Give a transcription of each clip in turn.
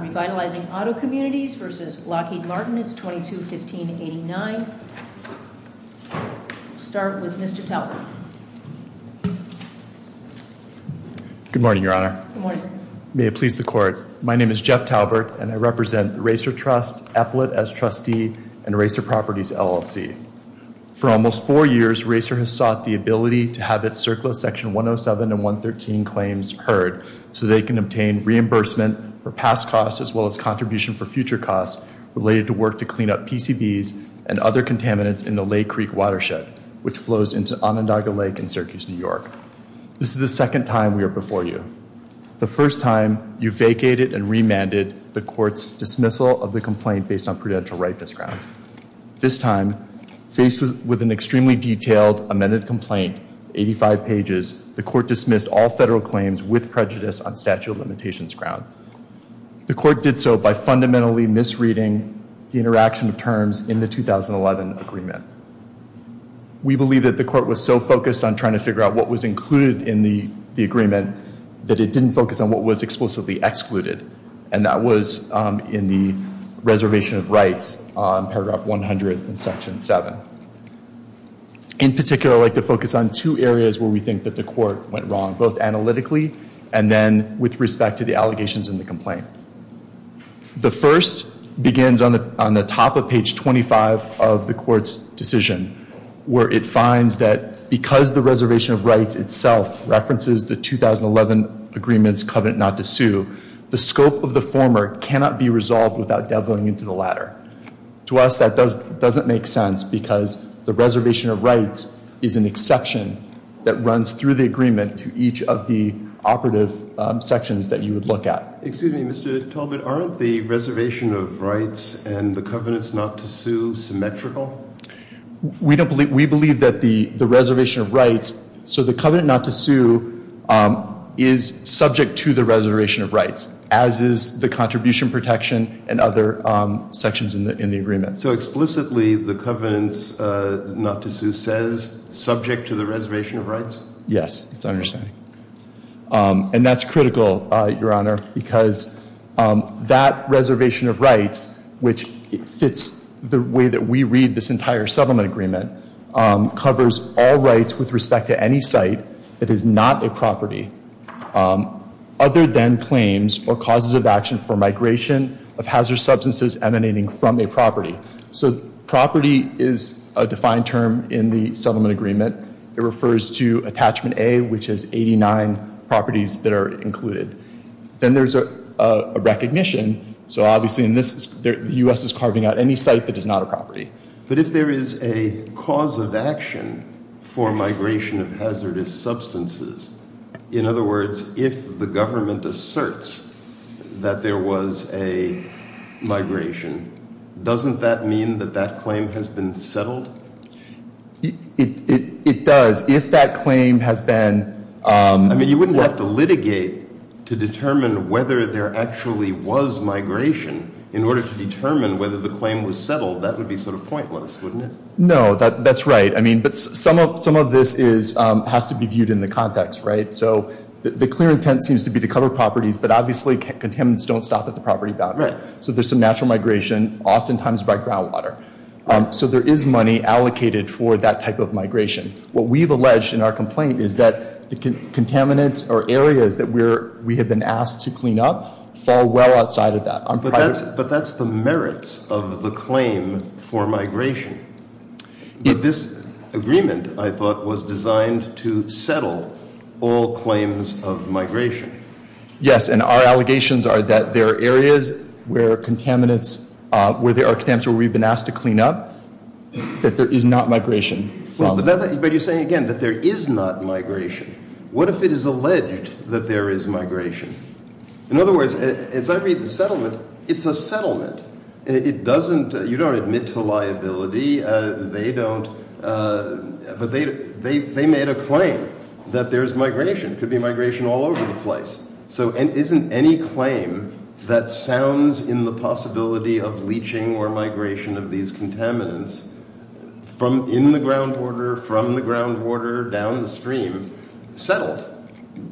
Revitalizing Auto Communities v. Glocky Martins 2215-89, to start with Mr. Talbert. Good morning, Your Honor. May it please the court. My name is Jeff Talbert and I represent the RACER Trust, appellate as trustee, and RACER Properties LLC. For almost four years, RACER has sought the ability to have its circular section 107 and 113 claims heard so they can obtain reimbursement for past costs as well as contribution for future costs related to work to clean up PCBs and other contaminants in the Lake Creek Watershed, which flows into Onondaga Lake in Syracuse, New York. This is the second time we are before you. The first time, you vacated and remanded the court's dismissal of the complaint based on prudential right to scrap. This time, faced with an extremely detailed amended complaint, 85 pages, the court dismissed all federal claims with prejudice on statute of limitations ground. The court did so by fundamentally misreading the interaction of terms in the 2011 agreement. We believe that the court was so focused on trying to figure out what was included in the agreement that it didn't focus on what was explicitly excluded, and that was in the reservation of rights on paragraph 100 and section 7. In particular, I'd like to focus on two areas where we think that the court went wrong, both analytically and then with respect to the allegations in the complaint. The first begins on the top of page 25 of the court's decision, where it finds that because the reservation of rights itself references the 2011 agreement's covenant not to sue, the scope of the former cannot be resolved without dabbling into the latter. To us, that doesn't make sense because the reservation of rights is an exception that runs through the agreement to each of the operative sections that you would look at. Excuse me, Mr. Talbot, aren't the reservation of rights and the covenants not to sue symmetrical? We believe that the reservation of rights, as is the contribution protection and other sections in the agreement. So explicitly, the covenants not to sue says, subject to the reservation of rights? Yes, that's what I understand. And that's critical, Your Honor, because that reservation of rights, which fits the way that we read this entire settlement agreement, covers all rights with respect to any site that is not a property. There are then claims or causes of action for migration of hazardous substances emanating from a property. So property is a defined term in the settlement agreement. It refers to Attachment A, which is 89 properties that are included. Then there's a recognition. So obviously, in this, the U.S. is carving out any site that is not a property. But if there is a cause of action for migration of hazardous substances, in other words, if the government asserts that there was a migration, doesn't that mean that that claim has been settled? It does. If that claim has been... I mean, you wouldn't have to litigate to determine whether there actually was migration in order to determine whether the claim was settled. That would be sort of pointless, wouldn't it? No, that's right. I mean, but some of this has to be viewed in the same way. So the clear intent seems to be to cover property, but obviously, contaminants don't stop at the property boundary. So there's some natural migration, oftentimes by groundwater. So there is money allocated for that type of migration. What we've alleged in our complaint is that the contaminants or areas that we have been asked to clean up fall well outside of that. But that's the merits of the claim for migration. This agreement, I thought, was designed to settle all claims of migration. Yes, and our allegations are that there are areas where contaminants, where there are potential where we've been asked to clean up, that there is not migration. But you're saying, again, that there is not migration. What if it is alleged that there is migration? In other words, it's not really a settlement. It's a settlement. It doesn't... you don't admit to liability. They don't... but they made a claim that there's migration. Could be migration all over the place. So isn't any claim that sounds in the possibility of leaching or migration of these contaminants from in the groundwater, from the groundwater, down in the stream, settled?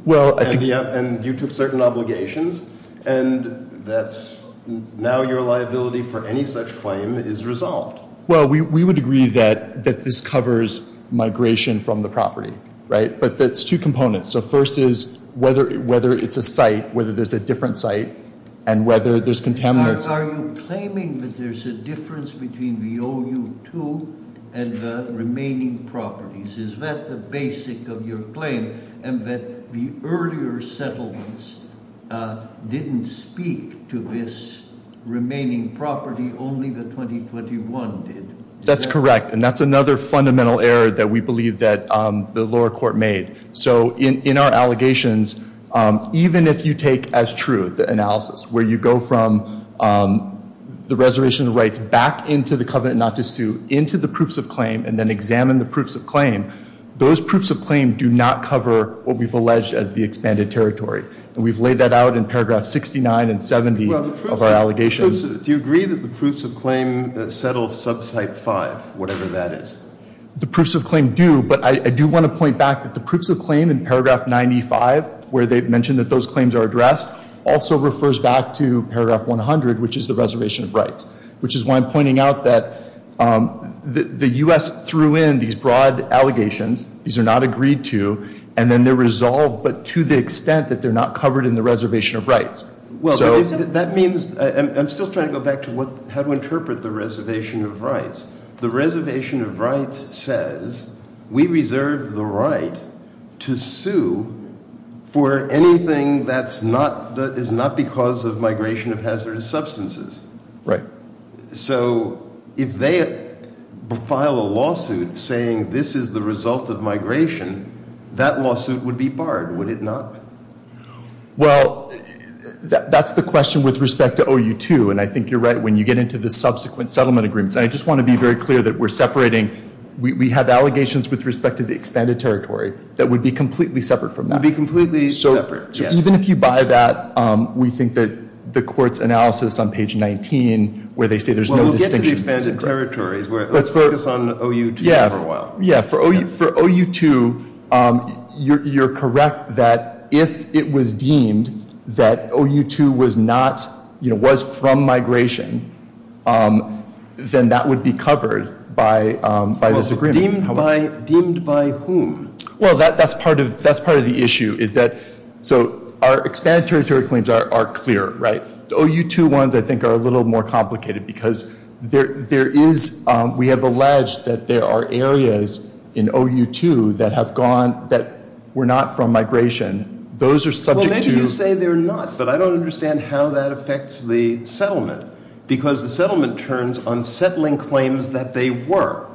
Well, and you took certain obligations, and that's... now your liability for any such claim is resolved. Well, we would agree that that this covers migration from the property, right? But that's two components. So first is whether it's a site, whether there's a different site, and whether there's contaminants... Are you claiming that there's a difference between the OU2 and the remaining properties? Is that the basic of your claim? And that the earlier settlements didn't speak to this remaining property, only the 2021 did. That's correct, and that's another fundamental error that we believe that the lower court made. So in our allegations, even if you take as truth the analysis, where you go from the reservation of rights back into the covenant not to sue, into the proofs of claim, and then examine the proofs of claim, those proofs of claim do not cover what we've alleged as the expanded territory. And we've laid that out in paragraph 69 and 70 of our allegations. Do you agree that the proofs of claim that settled sub-site 5, whatever that is? The proofs of claim do, but I do want to point back that the proofs of claim in paragraph 95, where they've mentioned that those claims are addressed, also refers back to paragraph 100, which is the reservation of rights. Which is why I'm pointing out that the U.S. threw in these broad allegations. These are not agreed to, and then they're resolved, but to the extent that they're not covered in the reservation of rights. Well, that means, I'm still trying to go back to what, how to interpret the reservation of rights. The reservation of rights says we reserve the right to sue for anything that's not, that is not because of migration of hazardous substances. Right. So, if they file a lawsuit saying this is the result of migration, that lawsuit would be barred, would it not? Well, that's the question with respect to OU2, and I think you're right when you get into the subsequent settlement agreements. I just want to be very clear that we're separating, we have allegations with respect to the expanded territory that would be completely separate from that. Even if you buy that, we think that the court's analysis on Well, we'll get to the expanded territories, but let's focus on OU2 for a while. Yeah, for OU2, you're correct that if it was deemed that OU2 was not, you know, was from migration, then that would be covered by those agreements. Deemed by whom? Well, that's part of, that's part of the issue, is that, so our expanded territory claims are clear, right? So OU2 ones, I think, are a little more complicated, because there is, we have alleged that there are areas in OU2 that have gone, that were not from migration. Those are subject to Well, maybe you say they're not, but I don't understand how that affects the settlement, because the settlement turns on settling claims that they were.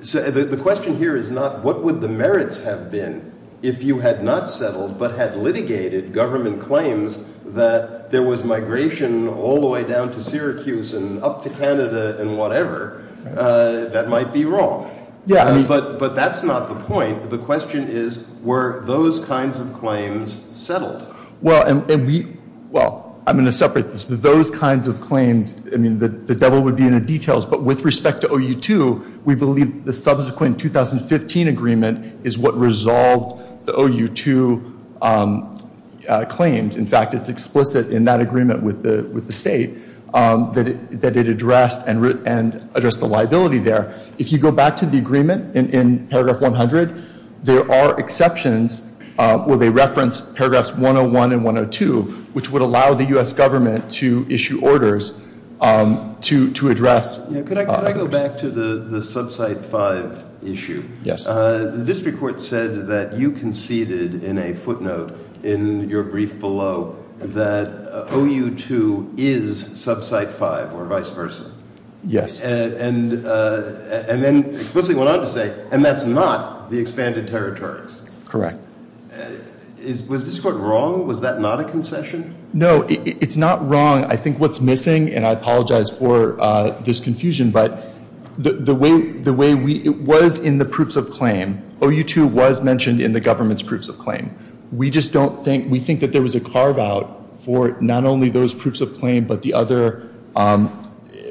The question here is not what would the merits have been if you had not settled, but had litigated government claims that there was migration all the way down to Syracuse and up to Canada and whatever, that might be wrong. Yeah. But that's not the point. The question is, were those kinds of claims settled? Well, and the, well, I'm going to separate those kinds of claims. I mean, the devil would be in the details, but with respect to OU2, we believe the subsequent 2015 agreement is what resolved the OU2 claims. In fact, it's explicit in that it addressed and addressed the liability there. If you go back to the agreement in paragraph 100, there are exceptions where they reference paragraphs 101 and 102, which would allow the U.S. government to issue orders to address Now, could I go back to the subcite 5 issue? Yes. The district court said that you conceded in a footnote in your brief below that OU2 is subcite 5 or vice versa. Yes. And then explicitly went on to say, and that's not the expanded territories. Correct. Was this court wrong? Was that not a concession? No, it's not wrong. I think what's missing, and I apologize for this confusion, but the way we, it was in the proofs of claim, OU2 was mentioned in the government's proofs of claim. We just don't think, we think that there was a not only those proofs of claim, but the other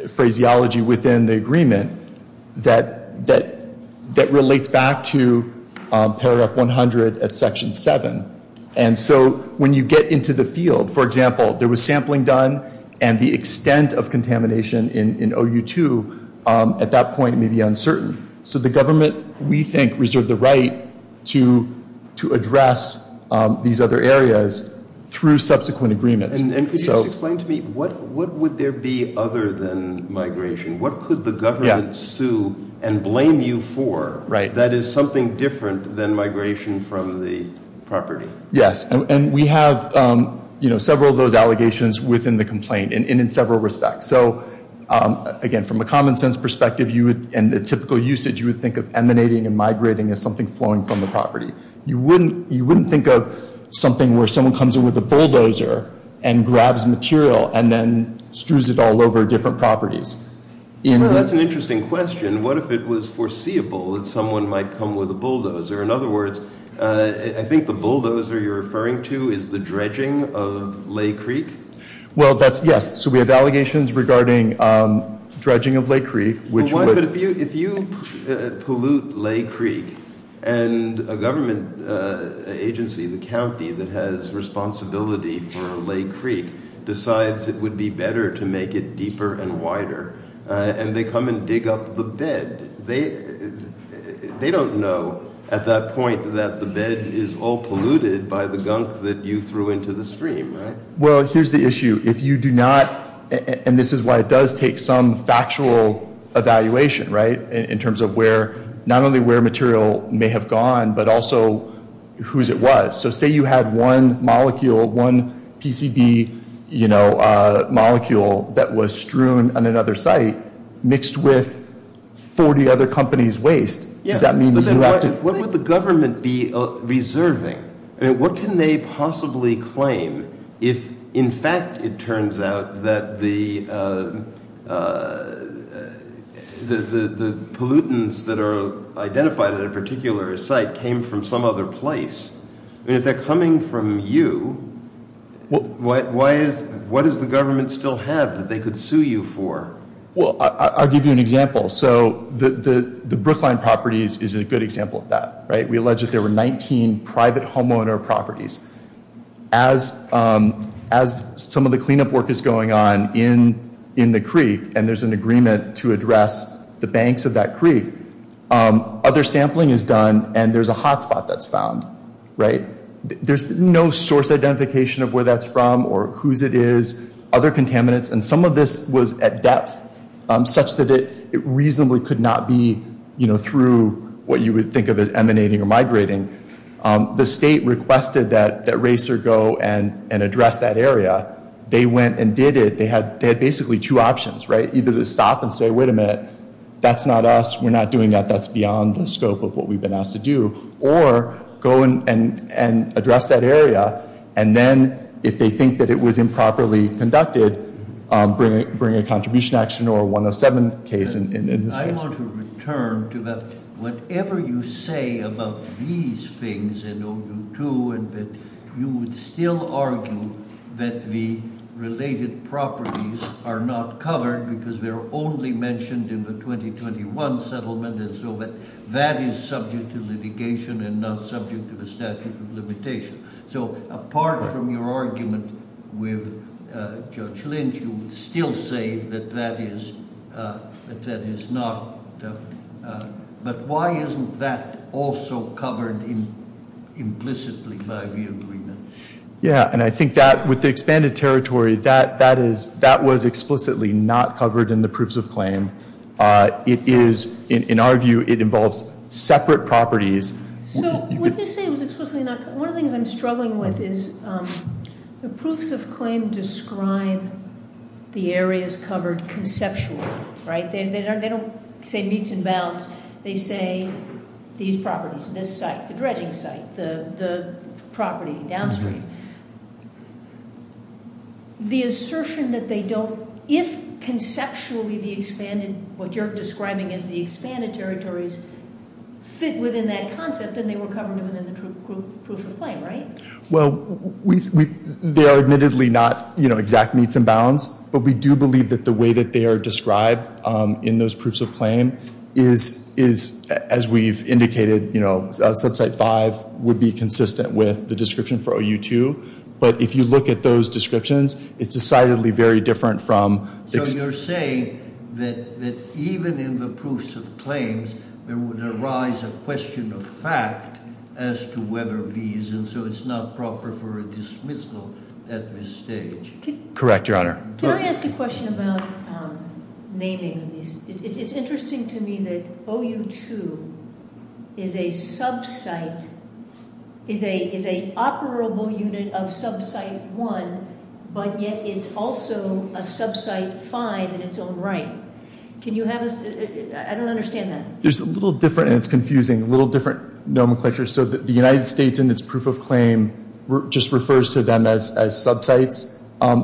phraseology within the agreement that relates back to paragraph 100 at section 7. And so, when you get into the field, for example, there was sampling done, and the extent of contamination in OU2 at that point may be uncertain. So the government, we think, reserves the right to address these other areas through subsequent agreement. And could you explain to me, what would there be other than migration? What could the government sue and blame you for that is something different than migration from the property? Yes, and we have, you know, several of those allegations within the complaint, and in several respects. So, again, from a common sense perspective, and the typical usage, you would think of emanating and migrating as something flowing from the property. You wouldn't think of something where someone comes in with a bulldozer and grabs material and then screws it all over different properties. That's an interesting question. What if it was foreseeable that someone might come with a bulldozer? In other words, I think the bulldozer you're referring to is the dredging of Lake Creek? Well, that's, yes. So we have allegations regarding dredging of Lake Creek. But if you pollute Lake Creek, and a government agency, the county, that has responsibility for Lake Creek, decides it would be better to make it deeper and wider, and they come and dig up the bed, they don't know at that point that the bed is all polluted by the gunk that you threw into the stream, right? Well, here's the issue. If you do not, and this is why it does take some factual evaluation, right, in terms of where, not only where material may have gone, but also whose it was. So say you have one molecule, one PCB, you know, molecule that was strewn on another site, mixed with 40 other companies' waste. Does that mean that you have to... But then what would the government be reserving? What can they possibly claim if, in fact, it turns out that the pollutants that are identified at a particular site came from some other place? And if they're coming from you, what does the government still have that they could sue you for? Well, I'll give you an example. So the Brookline properties is a good example of that, right? We allege that there were 19 private homeowner properties. As some of the cleanup work is going on in the creek, and there's an agreement to be done, and there's a hotspot that's found, right? There's no source identification of where that's from or whose it is, other contaminants. And some of this was at depth, such that it reasonably could not be, you know, through what you would think of as emanating or migrating. The state requested that RACER go and address that area. They went and did it. They had basically two options, right? Either to stop and say, wait a minute, that's not us. We're not doing that. That's beyond the scope of what we've been asked to do. Or go and address that area, and then if they think that it was improperly conducted, bring a contribution action or a 107 case. I want to return to that. Whatever you say about these things in O2 and that you would still argue that the related properties are not covered because they're only mentioned in the 2021 settlement, and so that is subject to litigation and not subject to the statute of limitations. So, apart from your argument with Judge Lynch, you would still say that that is not. But why isn't that also covered implicitly by the agreement? Yeah, and I think that with the expanded territory, that was explicitly not covered in the Proofs of Claim. It is, in our view, it involves separate properties. So, what they say was explicitly not covered. One of the things I'm struggling with is the Proofs of Claim describe the areas covered conceptually, right? They don't say meets and bounds. They say these properties, this site, the dredging site, the property downstream. The assertion that they don't, if conceptually the expanded, what you're describing as the expanded territories, fit within that concept, then they were covered within the Proofs of Claim, right? Well, they are admittedly not exact meets and bounds, but we do believe that the way that they are described in those Proofs of Claim is, as we've indicated, Subsite 5 would be consistent with the description for OU2, but if you look at those descriptions, it's decidedly very different from... So, you're saying that even in the Proofs of Claim, there would arise a question of fact as to whether these, and so it's not proper for a dismissal at this stage? Correct, Your Honor. Can I ask a question about naming? It's interesting to me that OU2 is a subsite, is an operable unit of Subsite 1, but yet it's also a Subsite 5 in its own right. Can you have a... I don't understand that. There's a little different, and it's confusing, a little different nomenclature. So, the United States in its Proof of Claim just refers to them as subsites.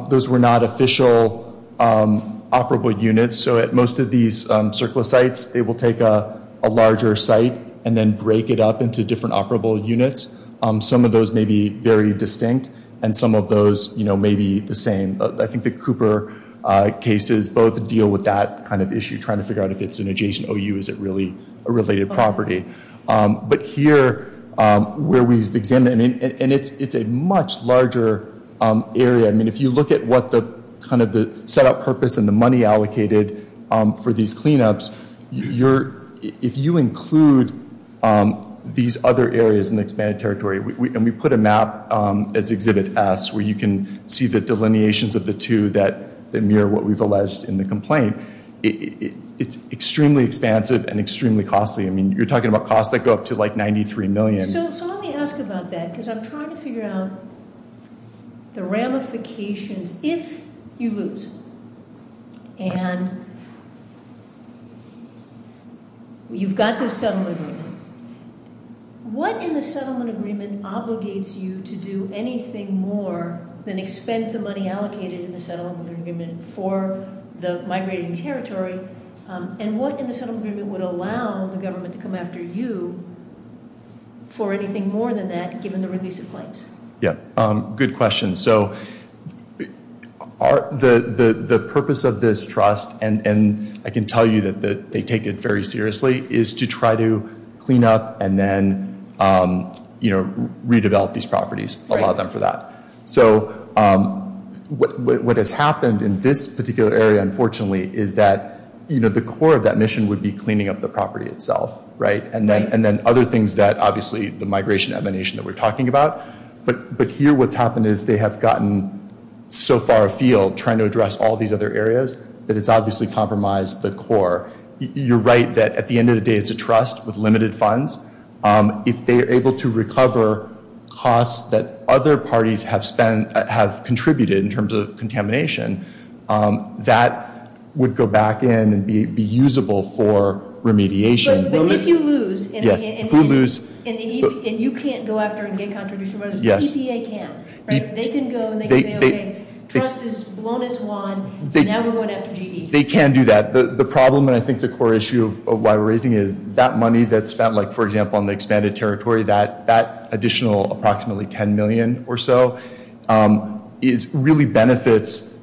Those were not official operable units, so at most of these surplus sites, it will take a larger site and then break it up into different operable units. Some of those may be very distinct, and some of those may be the same. I think the Cooper cases both deal with that kind of issue, trying to figure out if it's an adjacent OU, is it really a related property? But here, where we begin, and it's a much larger area. I mean, if you look at what the set-up purpose and the money allocated for these cleanups, if you include these other areas in the expanded territory, and we put a map as Exhibit S, where you can see the delineations of the two that mirror what we've alleged in the complaint, it's extremely expansive and extremely costly. I mean, you're talking about costs that go up to like $93 million. So let me ask about that, because I'm trying to figure out the ramifications if you lose, and you've got this settlement agreement. What in the settlement agreement obligates you to do anything more than expend the money allocated in the settlement agreement for the migrating territory, and what in the settlement agreement would allow the government to come after you for anything more than that, given the release of claims? Good question. So the purpose of this trust, and I can tell you that they take it very seriously, is to try to clean up and then, you know, redevelop these properties, allow them for that. So what has happened in this particular area, unfortunately, is that the core of that mission would be cleaning up the property itself, right? And then other things that, obviously, the migration emanation that we're talking about, but here what's happened is they have gotten so far afield trying to address all these other areas that it's obviously compromised the core. You're right that at the end of the day, it's a trust with limited funds. If they are able to recover costs that other parties have contributed in terms of contamination, that would go back in and be usable for remediation. But if you lose, and you can't go out there and make contributions, the EPA can, right? They can go and they can say, okay, trust is blown into the lawn, and now we're going after GD. They can do that. The problem, and I think the core issue of why we're raising it, is that money that's spent, like, for example, on the expanded territory, that additional approximately 10 million or so, really benefits,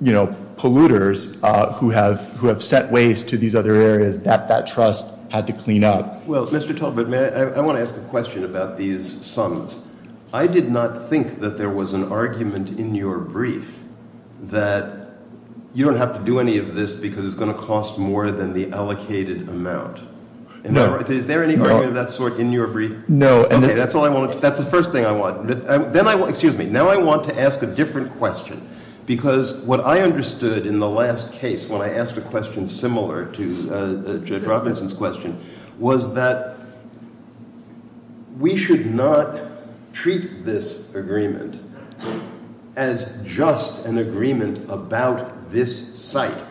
you know, polluters who have sent waste to these other areas that that trust had to clean up. Well, Mr. Talbot, I want to ask a question about these sums. I did not think that there was an argument in your brief that you don't have to do any of this because it's going to cost more than the allocated amount. Is there any argument of that sort in your brief? No. Okay, that's the first thing I want. Then I want, excuse me, now I want to ask a different question because what I understood in the last case, when I asked a question similar to Judge Robinson's question, was that we should not treat this agreement as just an agreement about this site,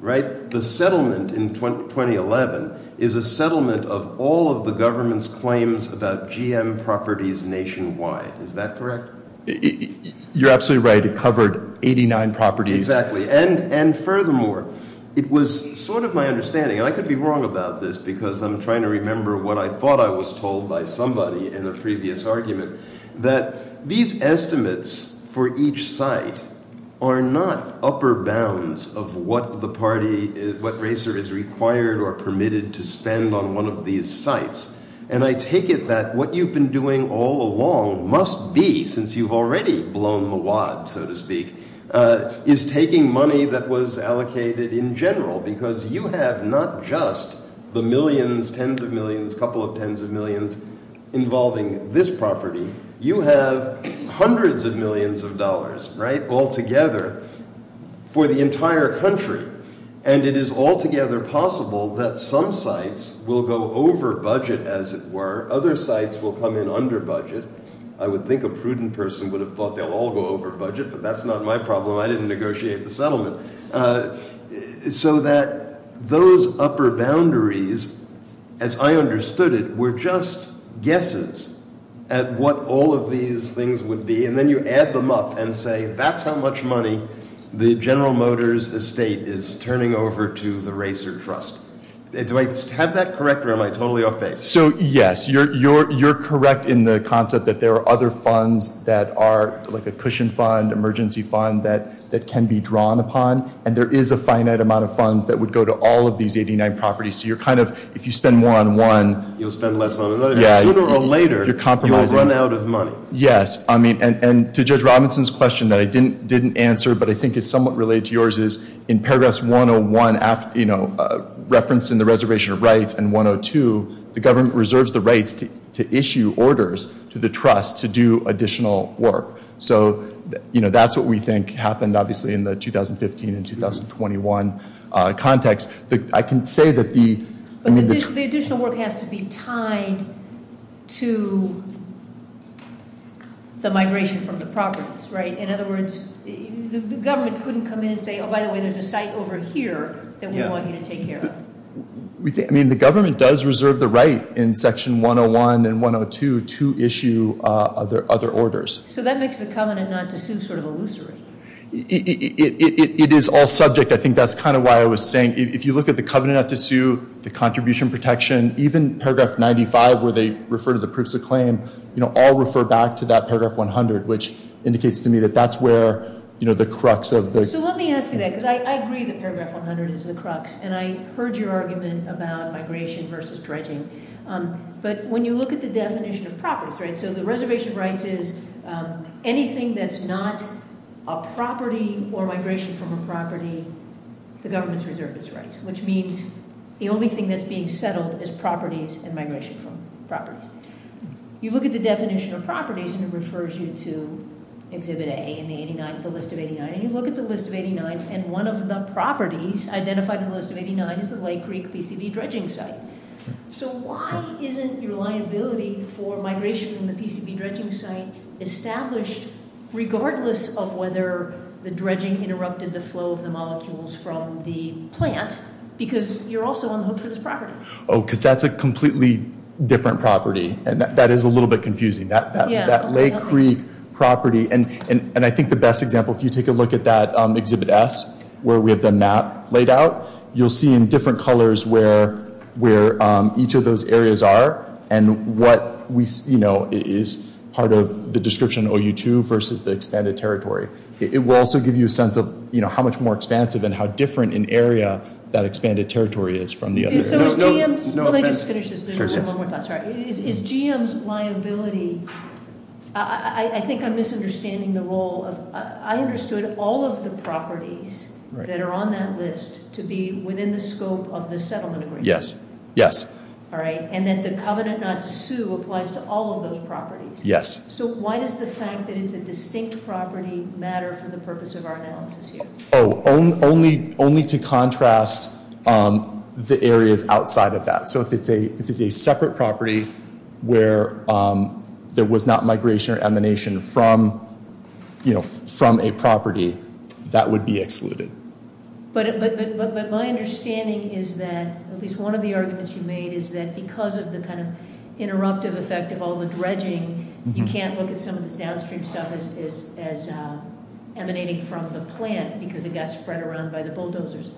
right? The settlement in 2011 is a settlement of all of the government's GM properties nationwide. Is that correct? You're absolutely right. It covered 89 properties. Exactly. And furthermore, it was sort of my understanding, and I could be wrong about this because I'm trying to remember what I thought I was told by somebody in a previous argument, that these estimates for each site are not upper bounds of what the party, what RACER is required or permitted to spend on one of these sites. And I take it that what you've been doing all along must be, since you've already blown the wad, so to speak, is taking money that was allocated in general because you have not just the millions, tens of millions, couple of tens of millions involving this property, you have hundreds of millions of dollars, right, altogether for the entire country. And it is altogether possible that some sites will go over budget, as it were. Other sites will come in under budget. I would think a prudent person would have thought they'll all go over budget, but that's not my problem. I didn't negotiate the settlement. So that those upper boundaries, as I understood it, were just guesses at what all of these things would be. And then you add them up and say, that's how much money the General Motors estate is turning over to the RACER Trust. Do I have that correct or am I totally off-base? So, yes, you're correct in the concept that there are other funds that are, like a cushion fund, emergency fund, that can be drawn upon. And there is a finite amount of funds that would go to all of these 89 properties. So you're kind of, if you spend more on one... You'll spend less on the other. Yeah. Sooner or later, you'll run out of money. Yes. I mean, and to Judge Robinson's question that I didn't answer, but I think it's somewhat related to yours, is in Paragraphs 101, you know, referenced in the Reservation of Rights and 102, the government reserves the right to issue orders to the Trust to do additional work. So, you know, that's what we think happened, obviously, in the 2015 and 2021 context. I can say that the... But the additional work has to be tied to the migration from the properties, right? In other words, the government couldn't come in and say, oh, by the way, there's a site over here that we want you to take care of. I mean, the government does reserve the right in Section 101 and 102 to issue other orders. So that makes the covenant not to sue sort of illusory. It is all subject. I think that's kind of why I was saying, if you look at the covenant not to sue, the contribution protection, even Paragraph 95, where they refer to the purchase of claim, you know, all refer back to that Paragraph 100, which indicates to me that that's where, you know, the crux of the... So let me ask you that, because I agree that Paragraph 100 is the crux, and I heard your argument about migration versus correcting. But when you look at the definition of properties, right? So the reservation of rights is anything that's not a property or migration from a property, the government's reserve its rights, which means the only thing that's being settled is properties and migration from properties. You look at the definition of properties and it refers you to Exhibit A and 89, the list of 89. And you look at the list of 89, and one of the properties identified in the list of 89 is the Lake Creek PCB dredging site. So why isn't your liability for migration in the PCB dredging site established, regardless of whether the dredging interrupted the flow of the molecules from the plant, because you're also on the hoops of this property. Oh, because that's a completely different property. And that is a little bit confusing, that Lake Creek property. And I think the best example, if you take a look at that Exhibit S, where we have the map laid out, you'll see in different colors where each of those areas are and what is part of the description OU2 versus the expanded territory. It will also give you a sense of how much more expansive and how different an area that expanded territory is from the other. Let me just finish this. Is GM's liability... I think I'm misunderstanding the role of... I understood all of the properties that are on that list to be within the scope of the settlement agreement. Yes. All right. And then the covenant not to sue applies to all of those properties. Yes. So why does the fact that it's a distinct property matter for the purpose of our analysis here? Oh, only to contrast the areas outside of that. So if it's a separate property where there was not migration or emanation from a property, that would be excluded. But my understanding is that, at least one of the arguments you made, is that because of the kind of interruptive effect of all the dredging, you can't look at some of the downstream stuff as emanating from the plant because it got spread around by the bulldozers.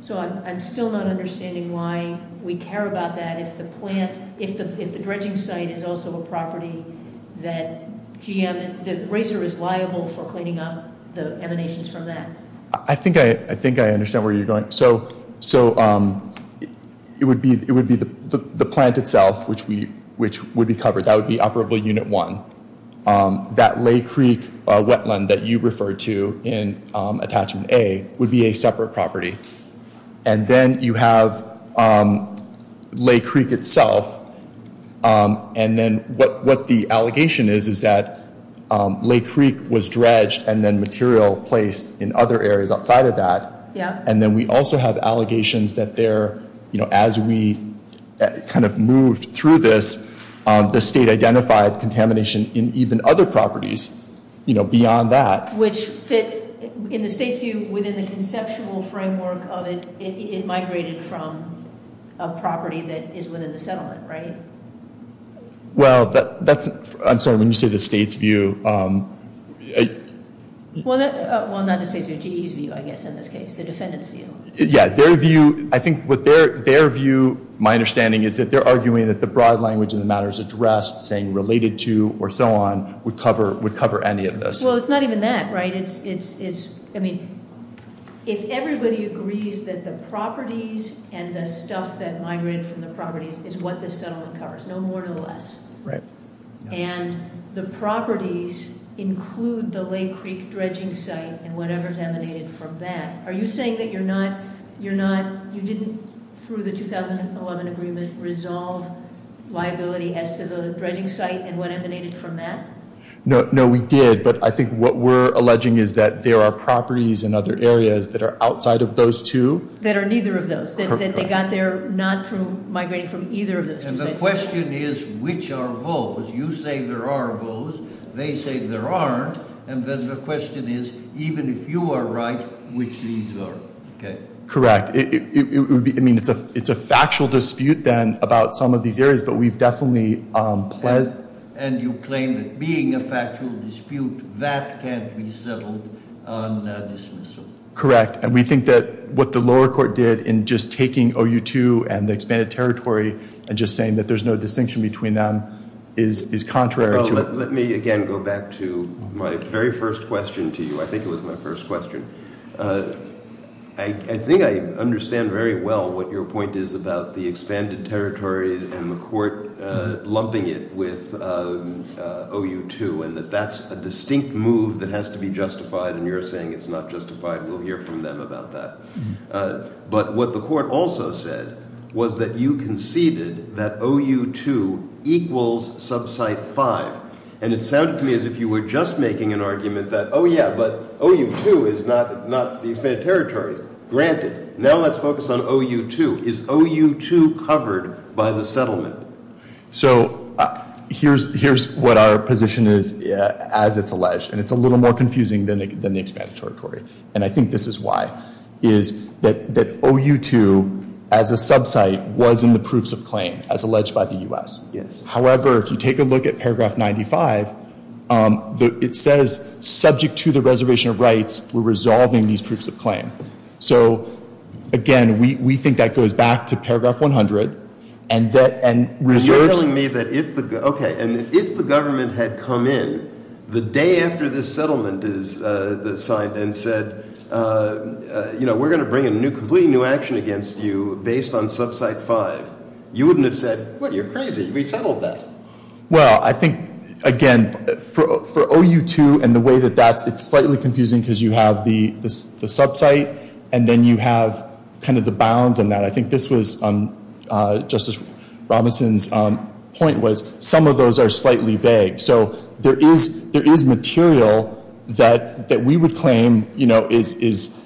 So I'm still not understanding why we care about that if the dredging site is also a property that the grazer is liable for cleaning up the emanations from that. I think I understand where you're going. So it would be the plant itself, which would be covered. That would be operable unit one. That Lake Creek wetland that you referred to in attachment A would be a separate property. And then you have Lake Creek itself. And then what the allegation is is that Lake Creek was dredged and then material placed in other areas outside of that. And then we also have allegations that as we kind of moved through this, the state identified contamination in even other properties beyond that. Which fits, in the state's view, within the conceptual framework of it migrating from a property that is within the settlement, right? Well, that's... I'm sorry, let me say the state's view. Well, not the state's view. GE's view, I guess, in this case. The defendant's view. Yeah, their view... I think what their view, my understanding, is that they're arguing that the broad language in the matters addressed, saying related to, or so on, would cover any of this. Well, it's not even that, right? It's... I mean, if everybody agrees that the properties and the stuff that migrated from the property is what this settlement covers, no more, no less. Right. And the properties include the Lake Creek dredging site and whatever's emanated from that. Are you saying that you're not... You didn't, through the 2011 agreement, resolve liability as to the dredging site and what emanated from that? No, we did. But I think what we're alleging is that there are properties in other areas that are outside of those two. That are neither of those, that they got there not from, migrated from either of those sites. And the question is, which are those? You say there are those. They say there aren't. And then the question is, even if you are right, which these are, okay? Correct. I mean, it's a factual dispute, then, about some of these areas, but we've definitely pledged... And you claim that being a factual dispute that can't be settled on a dismissal. Correct. And we think that what the lower court did in just taking OU2 and the expanded territory and just saying that there's no distinction between them is contrary to... Let me, again, go back to my very first question to you. I think it was my first question. I think I understand very well what your point is about the expanded territory and the court lumping it with OU2 and that that's a distinct move that has to be justified. And you're saying it's not justified. We'll hear from them about that. But what the court also said was that you conceded that OU2 equals sub-site 5. And it sounded to me as if you were just making an argument that, oh, yeah, but OU2 is not the expanded territory. Granted. Now let's focus on OU2. Is OU2 covered by the settlement? So here's what our position is as it's alleged. And it's a little more confusing than the expanded territory. And I think this is why, is that OU2 as a sub-site was in the proofs of claim as alleged by the U.S. However, if you take a look at paragraph 95, it says, subject to the reservation of rights, we're resolving these proofs of claim. So, again, we think that goes back to paragraph 100. And that, and... You're telling me that if the, okay, and if the government had come in the day after the settlement is signed and said, you know, we're gonna bring a new, completely new action against you based on sub-site 5, you wouldn't have said, what, you're crazy. We settled that. Well, I think, again, for OU2 and the way that that, it's slightly confusing because you have the sub-site and then you have kind of the bounds and that. And I think this was Justice Robinson's point was some of those are slightly vague. So there is material that we would claim, you know, is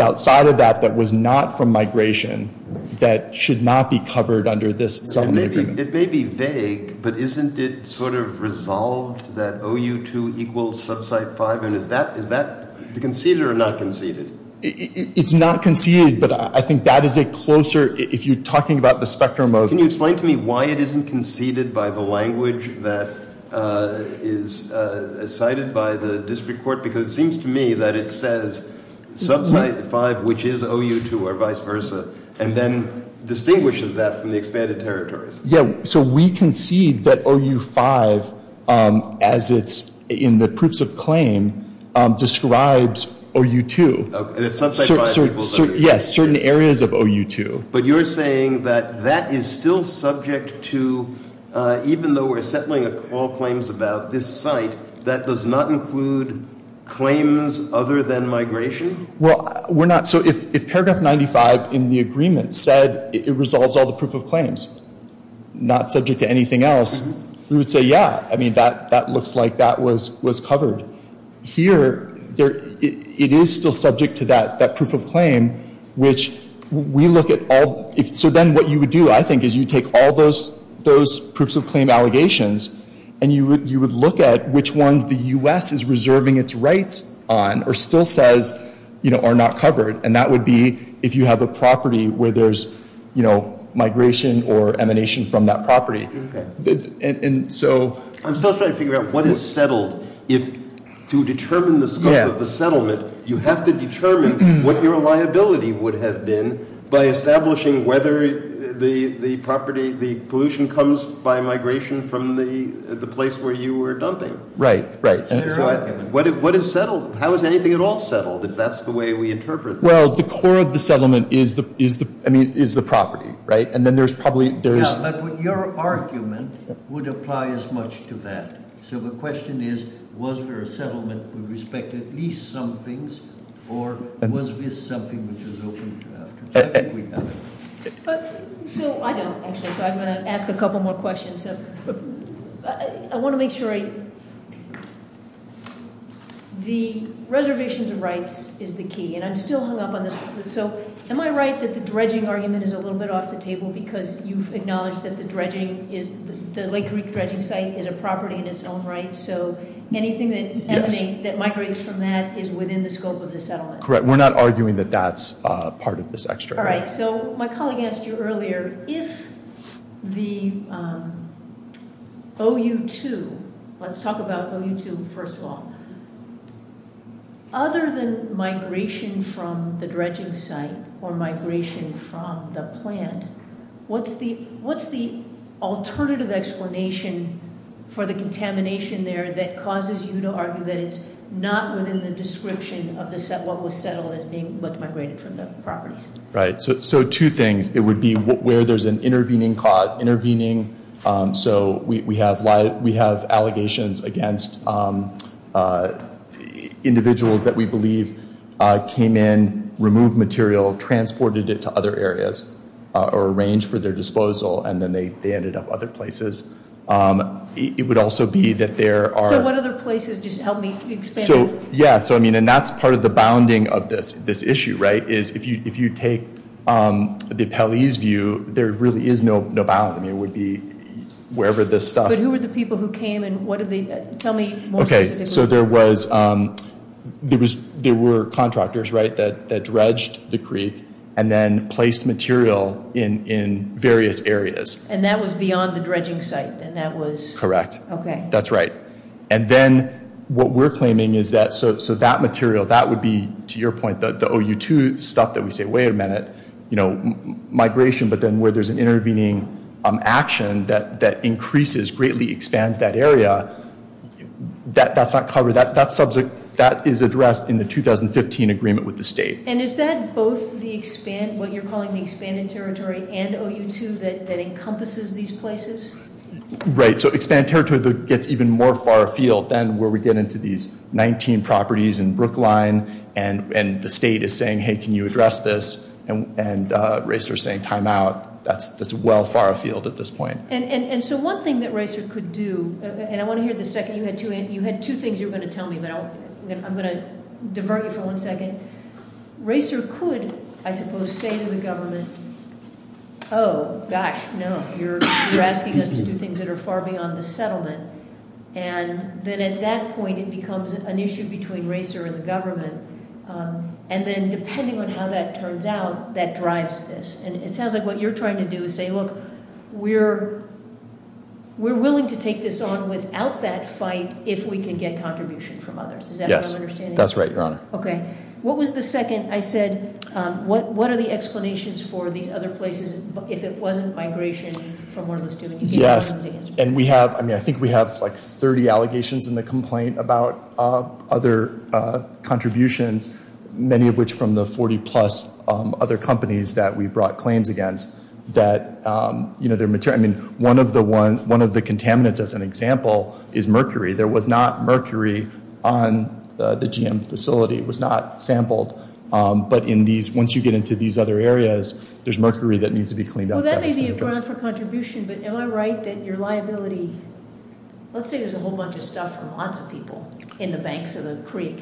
outside of that that was not from migration that should not be covered under this. It may be vague, but isn't it sort of resolved that OU2 equals sub-site 5? And is that, is that conceded or not conceded? It's not conceded, but I think that is a closer, if you're talking about the spectrum of... Can you explain to me why it isn't conceded by the language that is cited by the district court? Because it seems to me that it says sub-site 5, which is OU2 or vice versa, and then distinguishes that from the expanded territories. Yeah, so we concede that OU5, as it's in the proofs of claim, describes OU2. Yes, certain areas of OU2. But you're saying that that is still subject to, even though we're settling all claims about this site, that does not include claims other than migration? Well, we're not, so if paragraph 95 in the agreement said it resolves all the proof of claims, not subject to anything else, we would say, yeah, I mean, that looks like that was covered. Here, it is still subject to that proof of claim, which we look at all... So then what you would do, I think, is you take all those proofs of claim allegations, and you would look at which ones the U.S. is reserving its rights on or still says are not covered, and that would be if you have a property where there's migration or emanation from that property. And so... I'm still trying to figure out what is settled if to determine the scope of the settlement, you have to determine what your liability would have been by establishing whether the property, the pollution comes by migration from the place where you were dumping. Right, right. What is settled? How is anything at all settled? If that's the way we interpret it. Well, the core of the settlement is the property, right? And then there's probably... But your argument would apply as much to that. So the question is, was there a settlement with respect to at least some things, or was this something which was opened up? So, I don't think so. I'm going to ask a couple more questions. I want to make sure I... The reservations of rights is the key, and I'm still hung up on this. So, am I right that the dredging argument is a little bit off the table because you've acknowledged that the dredging is... the Lake Creek dredging site is a property in its own right, so anything that migrates from that is within the scope of the settlement. Correct. We're not arguing that that's part of this extra. All right. So, my colleague asked you earlier, if the OU2... Let's talk about OU2 first of all. Other than migration from the dredging site or migration from the plant, what's the alternative explanation for the contamination there that causes you to argue that it's not within the description of what was settled as being migrated from the property? Right. So, two things. It would be where there's an intervening cause. Intervening, so we have allegations against individuals that we believe came in, removed material, transported it to other areas or arranged for their disposal, and then they ended up other places. It would also be that there are... So, what other places just help me explain? So, yeah. So, I mean, and that's part of the bounding of this issue, right, is if you take the appellee's view, there really is no boundary. It would be wherever this stuff... But who are the people who came and what did they... Tell me more specifically. Okay. So, there was... There were contractors, right, that dredged the creek and then placed material in various areas. And that was beyond the dredging site? Right. And that was... Correct. Okay. That's right. And then, what we're claiming is that... So, that material, that would be, to your point, the OU2 stuff that we say, wait a minute, you know, migration, but then where there's an intervening action that increases, greatly expands that area, that's not covered. That subject, that is addressed in the 2015 agreement with the state. And is that both the expanded... What you're calling the expanded territory and OU2 that encompasses these places? Right. So, expanded territory that gets even more far afield than where we get into these 19 properties in Brookline and the state is saying, hey, can you address this? And RACER is saying, time out. That's well far afield at this point. And so, one thing that RACER could do... And I want to hear the second... You had two things you were going to tell me, but I'm going to divert you for one second. RACER could, I suppose, say to the government, oh, gosh, no, you're asking us to do things that are far beyond the settlement. And then at that point, it becomes an issue between RACER and the government. And then, depending on how that turns out, that drives this. And it sounds like what you're trying to do is say, look, we're willing to take this on without that fight if we can get contribution from others. Is that your understanding? Yes. That's right, Your Honor. Okay. What was the second I said, what are the explanations for the other places if it wasn't migration from where it was going to be? Yes. And we have, I mean, I think we have like 30 allegations in the complaint about other contributions, many of which from the 40-plus other companies that we brought claims against that, you know, they're material... I mean, one of the contaminants as an example is mercury. There was not mercury on the GM facility It was not sampled. But in these, once you get into these other areas, there's mercury that needs to be cleaned up. Well, that may be a ground for contribution, but am I right that your liability, let's say there's a whole bunch of stuff from lots of people in the banks of the creek,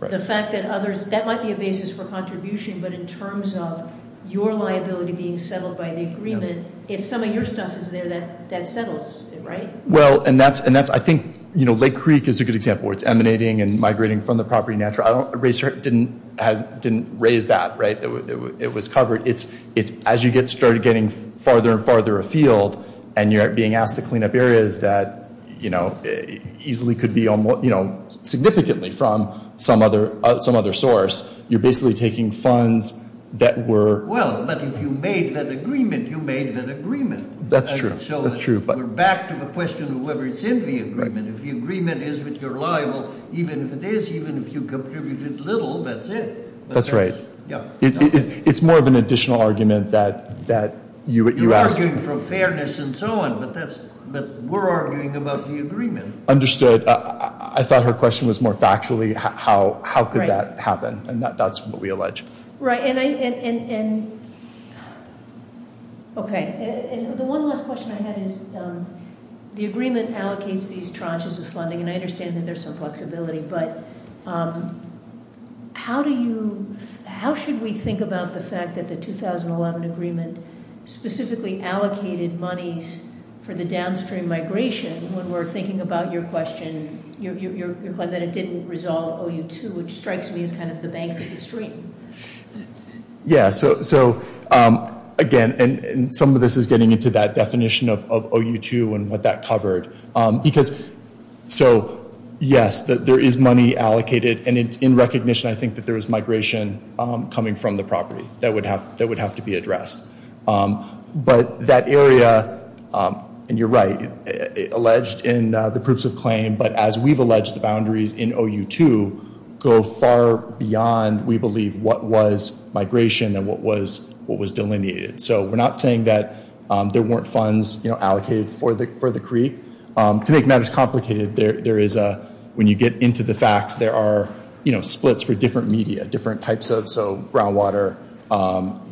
the fact that others, that might be a basis for contribution, but in terms of your liability being settled by the agreement, if some of your stuff is there, that settles it, right? Well, and that's, I think, you know, Lake Creek is a good example where it's emanating and migrating from the property and natural... I didn't raise that, right? It was covered. It's, as you get started getting farther and farther afield and you're being asked to clean up areas that, you know, easily could be, you know, significantly from some other source, you're basically taking funds that were... Well, but if you made that agreement, that's true. That's true, but... So we're back to the question of whether it's in the agreement. If the agreement is that you're liable, even if it is, even if you contributed little, that's it. That's right. Yeah. It's more of an additional argument that you... You're arguing for fairness and so on, but that's, but we're arguing about the agreement. Understood. I thought her question was more factually how could that happen and that's not possible, but we allege. Right, and I, and, and, okay, and the one last question I had is the agreement allocates these tranches of funding and I understand that there's some flexibility, but how do you, how should we think about the fact that the 2011 agreement specifically allocated monies for the downstream migration when we're thinking about your question, your, your, your question is that it didn't resolve OU2 which strikes me as kind of the bankruptcy stream. Yeah, so, so, again, and some of this is getting into that definition of OU2 and what that covered because, so, yes, there is money allocated and it's in recognition I think that there is migration coming from the property that would have, that would have to be addressed, but that area, and you're right, it's not alleged in the proofs of claim, but as we've alleged the boundaries in OU2 go far beyond we believe what was migration and what was, what was delineated. So, we're not saying that there weren't funds allocated for the, for the creek. To make matters complicated, there is a, when you get into the facts, there are, you know, splits for different media, different types of, so groundwater,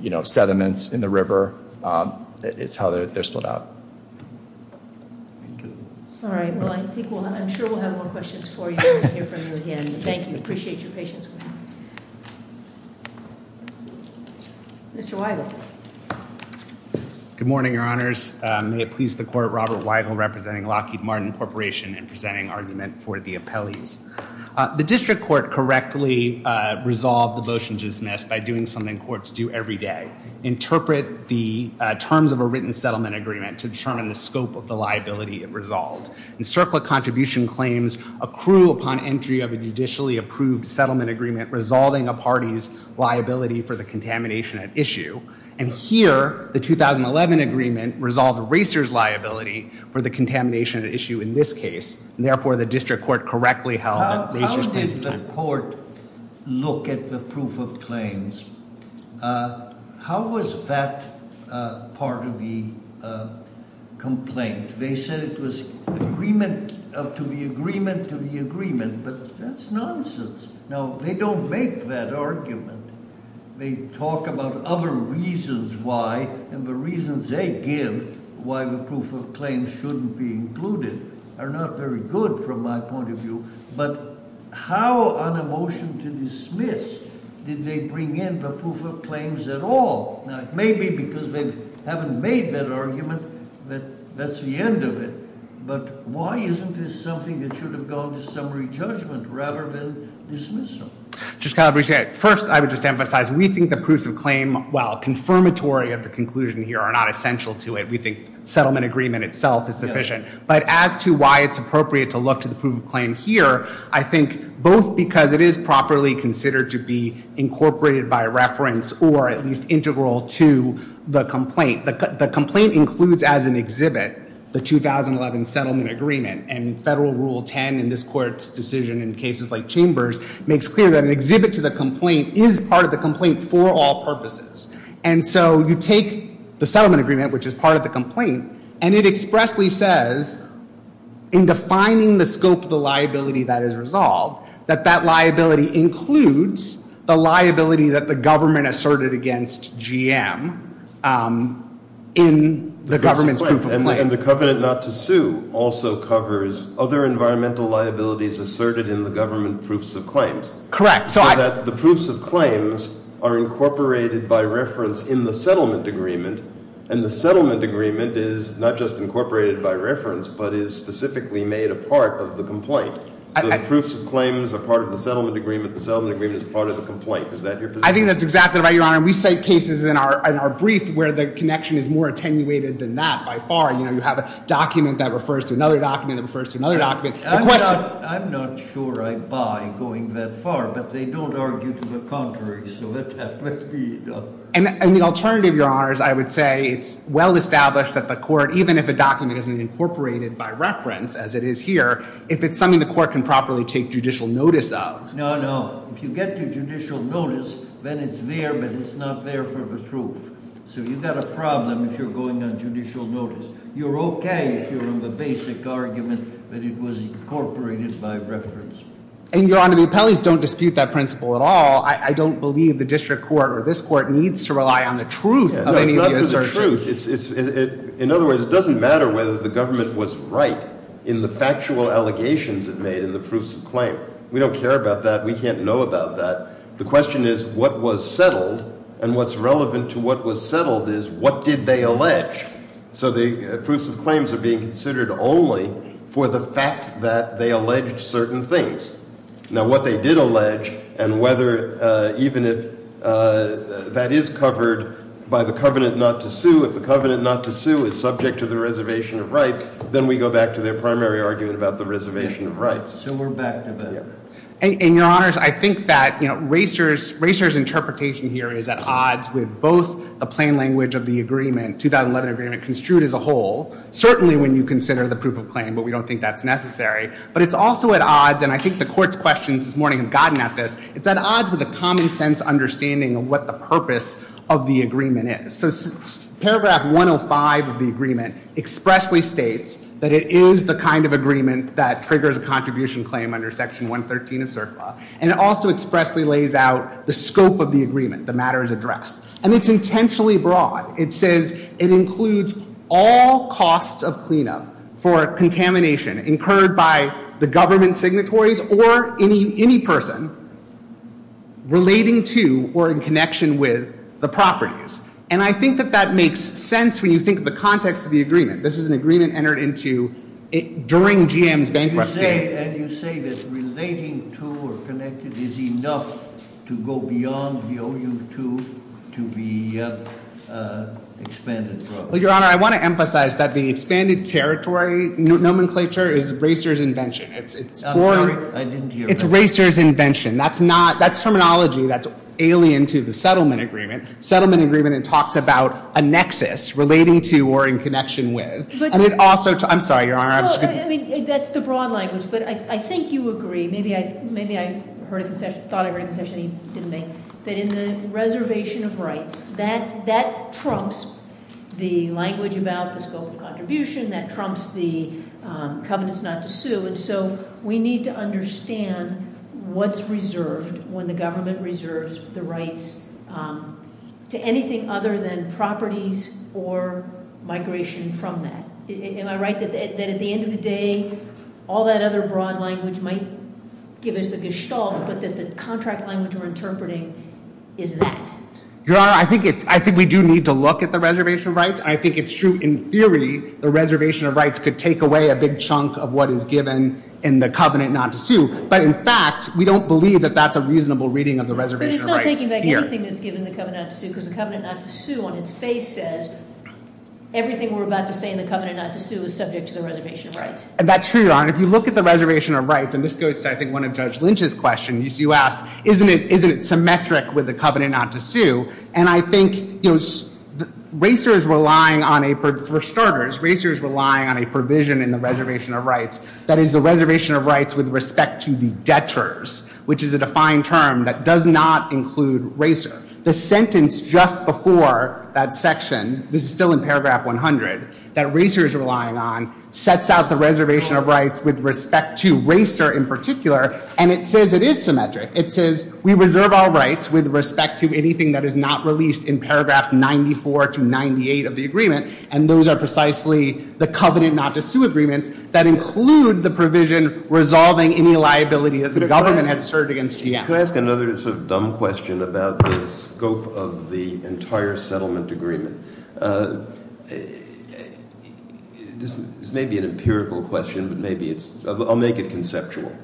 you know, I'm sure we'll have more questions for you in the near future again. Thank you. Appreciate your patience. Mr. Weigel. Good morning, Your Honors. I'm going to please the Court, Robert Weigel representing Lockheed Martin Corporation in presenting argument for the appellee. The district court the motion to dismiss by doing something courts do every day. Interpret the terms of a written settlement agreement to determine the scope of the liability and the status of the liability resolved. The CERCLA contribution claims accrue upon entry of a judicially approved settlement agreement resolving a party's liability for the contamination at issue. And here, the 2011 agreement resolved a racer's liability for the contamination at issue in this case. Therefore, the district court correctly held... How did the court look at the proof of claims? How was that part of the argument? They said it was agreement to the agreement but that's nonsense. Now, they don't make that argument. They talk about other reasons why and the reasons they give why the proof of claims shouldn't be included are not very good from my point of view but how on a motion to dismiss did they bring in the proof of claims at all? Now, it may be because they haven't made that argument that that's the end of it but why isn't this something that should have gone to summary judgment rather than dismissal? First, I would just emphasize we think the proof of claim are not essential to it. We think settlement agreement itself is deficient. We think of claim itself is deficient. But as to why it's appropriate to look at the proof of claim here, I think both because it is properly considered to be incorporated by reference or at least integral to the complaint. The complaint includes as an exhibit the 2011 settlement agreement and federal rule 10 in this court's decision in cases like chambers makes clear that an exhibit to the complaint is part of the complaint for all purposes. So you take the settlement agreement which is part of the complaint and it expressly says in defining the scope of the liability that is resolved that that liability includes the liability that the government asserted against GM in the government's proof of claim. And the covenant not to sue also covers other environmental liabilities asserted in the government proofs of claims. Correct. So the proofs of claims are incorporated by reference in the settlement agreement. And the settlement agreement is not just incorporated by reference but is specifically made a part of the complaint. I think that's exactly right. We cite cases in our brief where the connection is more attenuated than that. You have a document that refers to another document. I'm not sure I buy going that far. But they don't argue to the contrary. And the alternative, Your Honors, I would say it's well established that the court, even if the document isn't incorporated by reference as it is here, if it's something the court can properly take judicial notice of. No, no. If you get your judicial notice, then it's there but it's not there for the truth. So you've got a problem if you're going on judicial notice. You're okay if you're on the basic argument that it was incorporated by reference. And Your Honors, we probably don't dispute that principle at all. I don't believe the district court or this court needs to rely on the truth. In other words, it doesn't matter whether the government was right in the factual allegations it made in the prusive claim. We don't care about that. We can't know about that. The question is what was settled and what's relevant to what was settled is what did they allege. So the prusive claims are being considered only for the fact that they alleged certain things. Now what they did allege and whether even if that is covered by the covenant not to sue, if the covenant not to sue is subject to the reservation of rights, then we go back to the primary argument about the reservation of rights. And your honors, I think that racer's interpretation here is at odds with both the plain language of the agreement, 2011 agreement construed as a whole, certainly when you consider the proof of claim, but we don't think that's necessary. But it's also at odds with a common sense understanding of what the purpose of the agreement is. So paragraph 105 of the agreement expressly states that it is the kind of agreement that triggers a contribution claim under section 113 and also expressly lays out the scope of the agreement, the matters addressed. And it's intentionally broad. It says it includes all costs of cleanup for contamination incurred by the government signatories or any person relating to or in connection with the properties. And I think that that makes sense when you think of the context of the agreement. This is an agreement entered into during GM's bankruptcy. And you say that relating to or connected is enough to go beyond the OU2 to be expanded. Well, Your Honor, I want to emphasize that the expanded territory nomenclature is racer's invention. It's racer's invention. That's terminology that's alien to the settlement agreement. It talks about a nexus relating to or in connection with. I'm sorry, Your Honor. I think you agree. Maybe I thought I heard it in the reservation of rights. That trumps the language about the scope of contribution. That trumps the covenant not to sue. So we need to look at reservation of rights to anything other than properties or migration from that. Am I right that at the end of the day, all that other broad language might give us the gestalt, but the contract language we're interpreting is that? Your Honor, I think we do need to look at the reservation of rights. I think it's true in theory the reservation of rights could take away a big chunk of what is given in the covenant not to sue. But in fact, we don't believe that's a reasonable reading of the reservation of rights. Everything we're about to say in the covenant not to sue is subject to the reservation of rights. And that's true. If you look at the reservation of rights, isn't it symmetric with the covenant not to sue? And I think racers relying on a provision in the reservation of rights, that is the reservation of rights with respect to the debtors, which is a defined term that does not include racers. The sentence just before that section, this is still in paragraph 100, that racers are relying on, sets out the reservation of rights with respect to racers in particular, and it says it is symmetric. It says we reserve all rights with respect to anything that is not released in paragraph 94 to 98 of the agreement, and those are precisely the covenant not to sue agreement that include the provision resolving any liability that the government had served against GM. Can I ask another dumb question about the scope of the entire settlement agreement? This may be an empirical question, but I'll make it conceptual.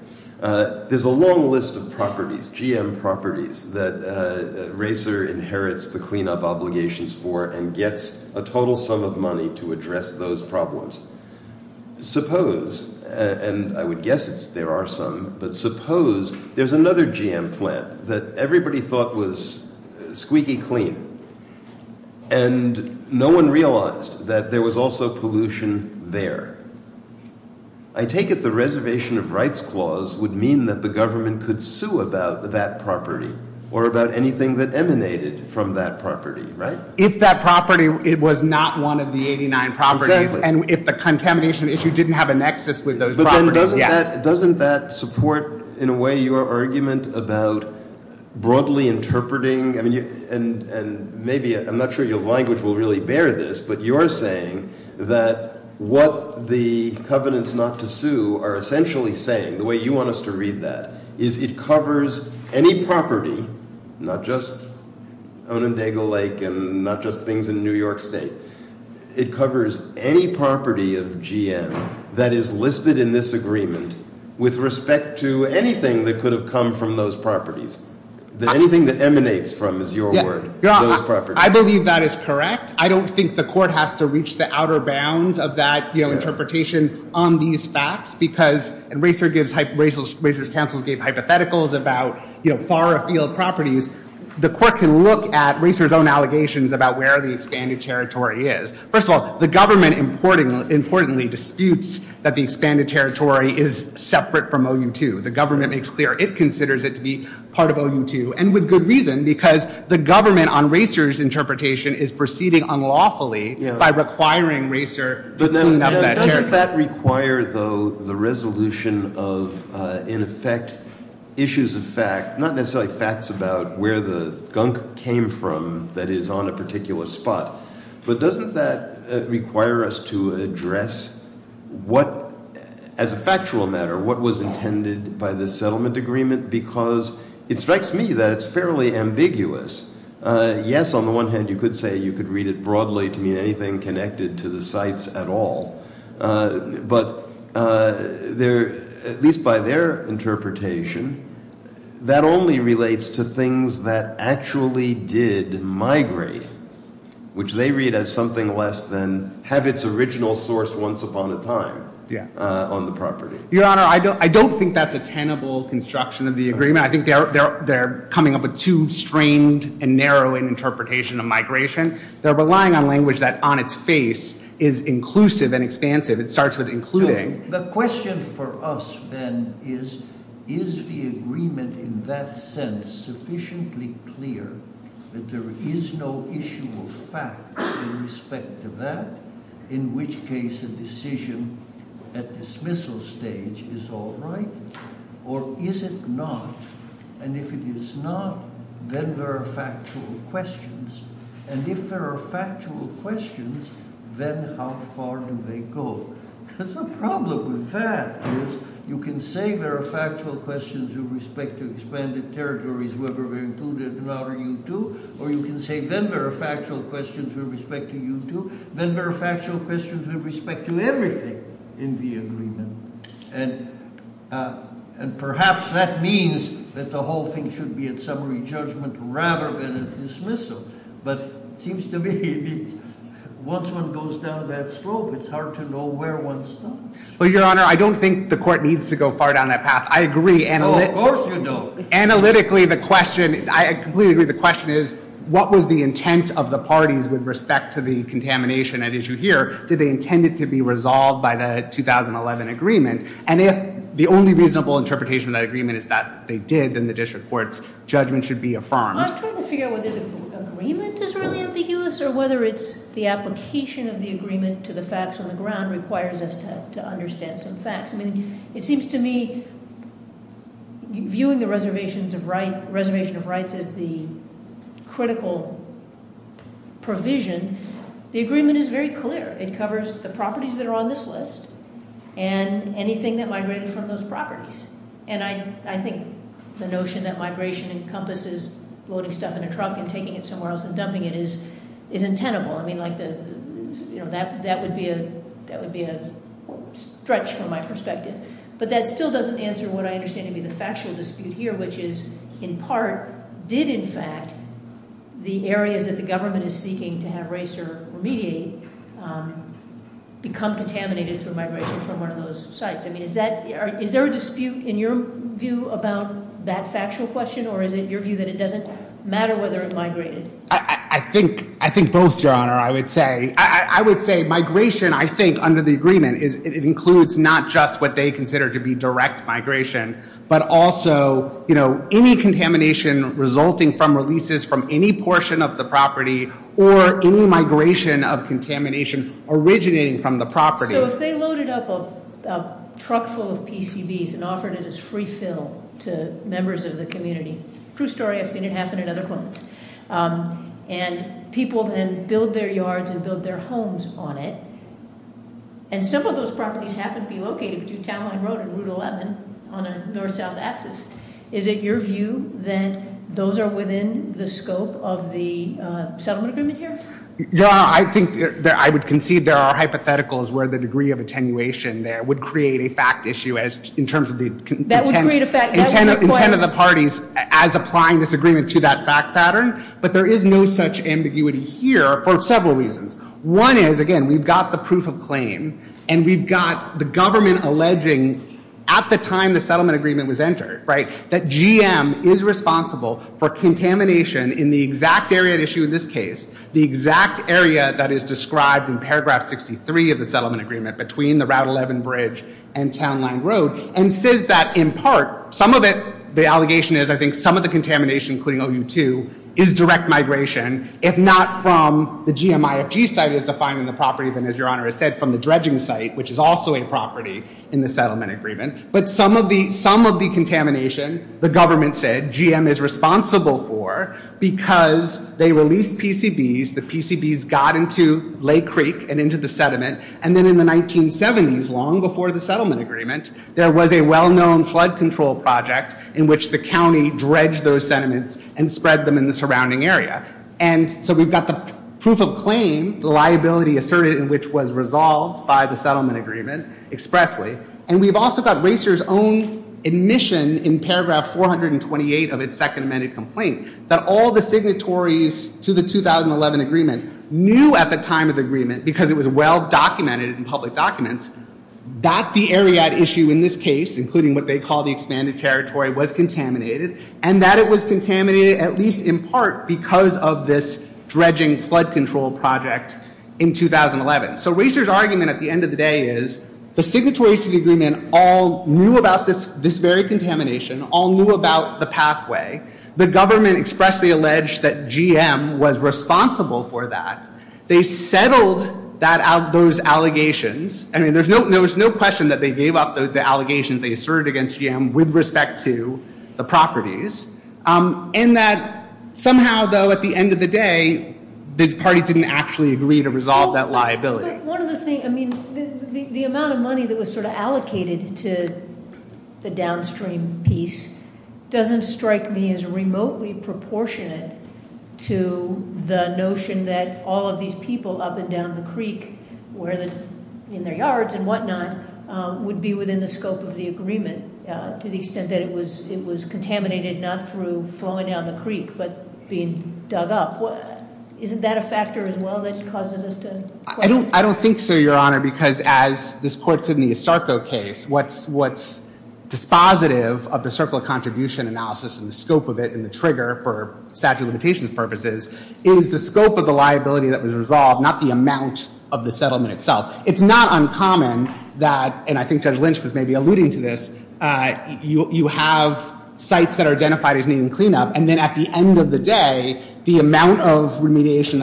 There is a long list of properties, GM properties, that racer inherits the cleanup obligations for and gets a total sum of money to address those problems. Suppose, and I would guess there are some, but suppose there's another GM plant that everybody thought was squeaky clean, and no one realized that there was also pollution there. I take it the reservation of rights clause would mean that the government could sue about that property or about anything that emanated from that property, right? If that property was not one of the 89 properties and if the contamination issue didn't have a nexus with those properties, yeah. Doesn't that support, in a way, your argument about broadly interpreting, and maybe, I'm not sure your language will really bear this, but you're saying that what the covenants not to sue are essentially saying, the way you want us to read that, is it covers any property, not just I'm interested in this agreement, with respect to anything that could have come from those properties, anything that emanates from those properties. I believe that is correct. I don't think the court has to reach the outer bounds of that interpretation on these facts, because racers counsel on that territory is separate from OU2. The government considers it to be part of OU2. The government on racers interpretation is proceeding unlawfully by requiring racers. Doesn't that require the resolution of, in effect, issues of fact, not necessarily facts about where the gunk came from that is on a particular spot, but doesn't that require us to address what, as a factual matter, what was intended by the settlement agreement, because it strikes me that it's fairly ambiguous. Yes, on the one hand, you could say you could read it broadly to mean anything connected to the sites at all, but at least by their interpretation, that only relates to things that actually did migrate, which they read as something less than have its original source once upon a time on the property. Your Honor, I don't think that's a tenable construction of the agreement. I think they're coming up with too strained and narrow an interpretation of migration. They're relying on language that, on its face, is inclusive and expansive. It starts with including. The question for us, then, is, is the agreement in that sense sufficiently clear that there is no issue of facts in respect to that, in which case a decision at dismissal stage is all right, or is it not? And if it is not, then there are factual questions, and if there are factual questions, then how far do they go? Because the problem with that is, you can say then there are factual questions in respect to expanded territories whether included or not, or you can say then there are factual questions in respect to you too, then there are factual questions in respect to everything in the agreement. And perhaps that means that the whole thing should be a summary judgment rather than a dismissal. But it is a summary judgment. I agree. Analytically, the question is what was the intent of the party with respect to the contamination at issue here? Did they intend it to be resolved by the 2011 agreement? And if the only reasonable interpretation of that agreement is that they did, then the district court's judgment should be affirmed. I'm trying to figure out whether the agreement is really ambiguous or whether it's the application of the agreement to the facts on the ground requires us to understand some facts. It seems to me viewing the reservation of rights as the critical provision, the agreement is very clear. It covers the properties that are on this list and anything that migrated from those properties. And I think the notion that migration encompasses loading stuff in a truck and taking it somewhere else and dumping it is untenable. That would be a stretch from my perspective. But that still doesn't answer what my question I'm trying to understand the factual dispute here which is in part did in fact the area that the government is seeking to have mediate become contaminated from one of those sites. Is there a dispute in your view about that factual question or it doesn't matter whether it migrated? I think both, John, I would say. I would say migration I think under the agreement includes not just what they consider to be direct migration but also any contamination resulting from releases from any portion of the property or any migration of contamination originating from the property. So if they loaded up a truck full of PCBs and offered it as free fill to members of the community, true story, I've seen it happen in other homes. And people build their yards and build their homes on it and some of those properties happen to be located on a north-south Is it your view that those are within the scope of the settlement agreement here? I would concede there are hypotheticals where the degree of attenuation there would create a fact issue in terms of the intent of the parties as applying this agreement to that fact pattern but there is no such ambiguity here for several reasons. One is we've got the proof of claim and we've got the government alleging at the time the settlement agreement was entered that GM is responsible for contamination in the exact area that is described in paragraph 63 of the settlement agreement and says that in part some of the contamination is direct migration if not from the GM property from the dredging site which is also a property in the settlement agreement but some of the contamination the government said GM is responsible for because they released PCBs and in the 1970s long before the settlement agreement there was a well known flood control project in which the county spread them in the surrounding area. So we have the proof of claim which was resolved by the settlement agreement expressly and we have RACER's own admission that all the signatories knew at the time of the agreement because it was well documented in public documents that the area issue in this case was contaminated and that it was contaminated in part because of this flood control project. So RACER's argument at the end of the day is that all knew about the pathway and the fact that GM was responsible for that. They settled those allegations. There was no question that they gave up the allegations with respect to the properties. And that somehow at the end of the day the party didn't actually resolve that liability. The amount of money that was allocated to the downstream piece doesn't strike me as remotely proportionate to the notion that all of these people up and down the creek would be within the scope of the agreement to the extent that it was contaminated not through flowing down the creek but being dug up. Isn't that a factor as well? I don't think so your honor. What is dispositive of the circle of contribution analysis is the scope of the liability that was resolved not the amount of the settlement itself. It's not uncommon that you have sites that are identified as clean up and at the end of the day the amount of remediation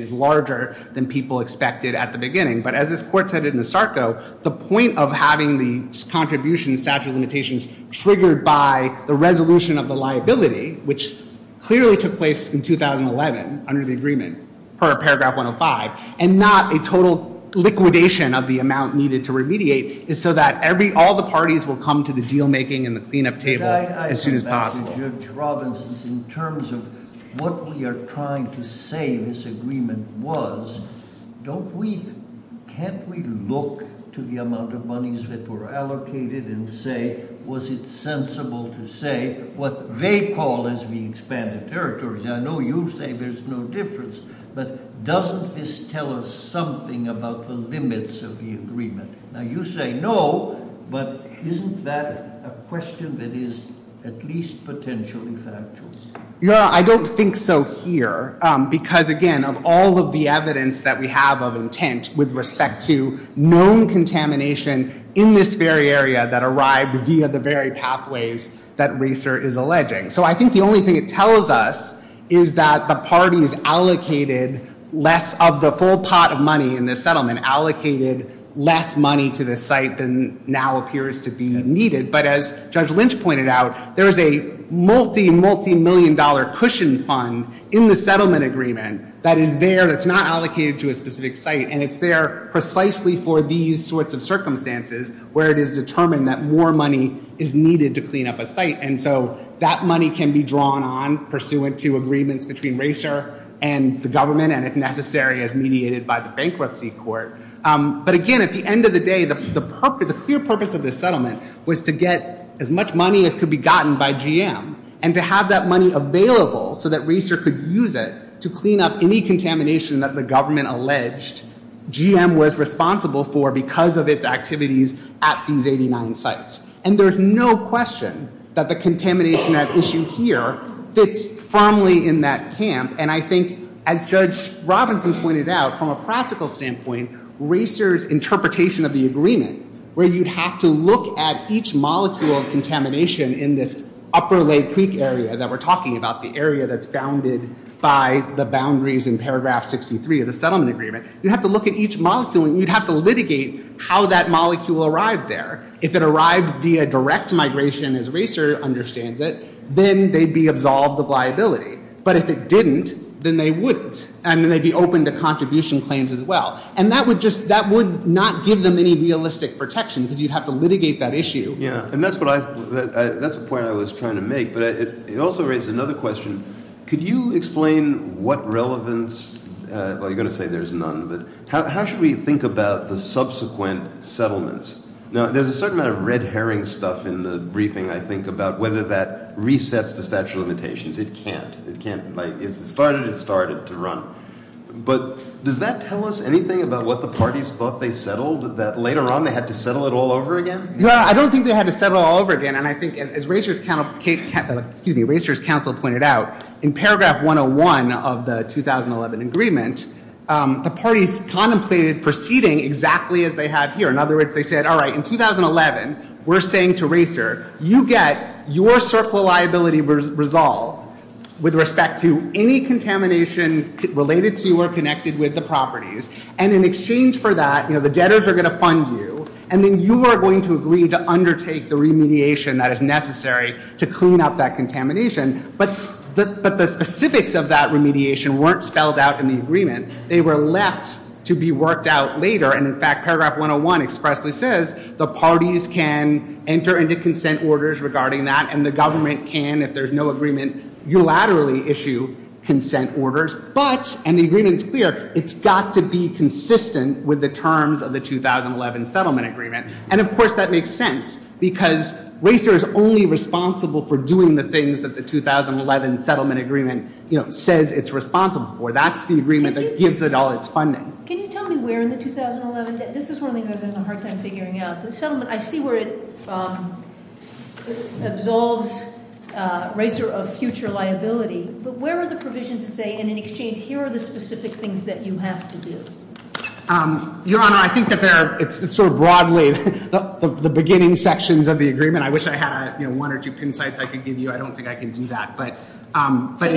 is larger than people expected at the beginning. The point of having the contribution statute limitations triggered by the liability which clearly took place in 2011 and not a total liquidation of the amount of that was allocated. What we are trying to say in this agreement was can't we look to the amount of monies that were allocated and say was it sensible to say what they call as the expanded territory. I know you say there's no difference but doesn't this tell us something about the limits of the agreement. You say no but isn't that a question that is at least potentially factual. I don't think so here because of all the evidence we have of intent with respect to known contamination in this very area that arrived via the pathways that racer is alleging. I think the only thing it tells us is that the parties allocated less of the full pot of money in the settlement allocated less money to the site than now appears to be needed but as Judge Lynch pointed out there's a multi-million dollar cushion fund in the settlement agreement that is there that's not allocated to a specific site and it's there precisely for these sorts of circumstances where it is determined that more money is needed to clean up a site and so that money can be drawn on pursuant to agreements between racer and the government and if necessary as mediated by the bankruptcy court but again at the end of the day the purpose of the settlement was to get as much money as could be drawn on racer and the government and the government is responsible for because of its activities at these 89 sites and there's no question that the contamination at issue here fits firmly in that camp and I think as Judge Robinson pointed out from a practical standpoint racer's interpretation of the agreement where you have to look at each molecule of contamination in this upper lake creek area that we're talking about the area founded by the boundaries in paragraph 63 of the settlement agreement you have to look at each molecule and you have to litigate how that molecule arrived there. If it arrived via direct migration as racer understands it then they'd be absolved of liability but if it didn't then they wouldn't and they'd be open to contribution claims as well and that would not give them any realistic protection because you'd have to litigate that and that's what I think about the subsequent settlements. Now there's a certain amount of red herring stuff in the briefing I think about whether that resets the statute of limitations. It can't. It started to run. But does that tell us anything about what the parties thought they settled that later on they had to settle it all over again? No. The parties contemplated proceeding exactly as they have here. In 2011 we're saying to racer you get your liability resolved with respect to any contamination related to or connected with the properties and in exchange for that the debtors are going to fund you and then you are going to agree to clean up that contamination. But the specifics of that weren't spelled out in the agreement. They were left to be worked out later. The parties can enter into consent orders regarding that and the government can if there's no agreement unilaterally issue consent orders but it's got to be consistent with the terms of the 2011 settlement agreement. And of course that makes sense because racer is only responsible for doing the things that the agreement says it's responsible for. And that's the agreement that gives it all its funding. I see where it absolves racer of future liability. But where are the provisions that say here are the specific things you have to do? It's sort of broadly the beginning sections of the agreement. I wish I had one or two insights I could give you. I don't think I can do that. I think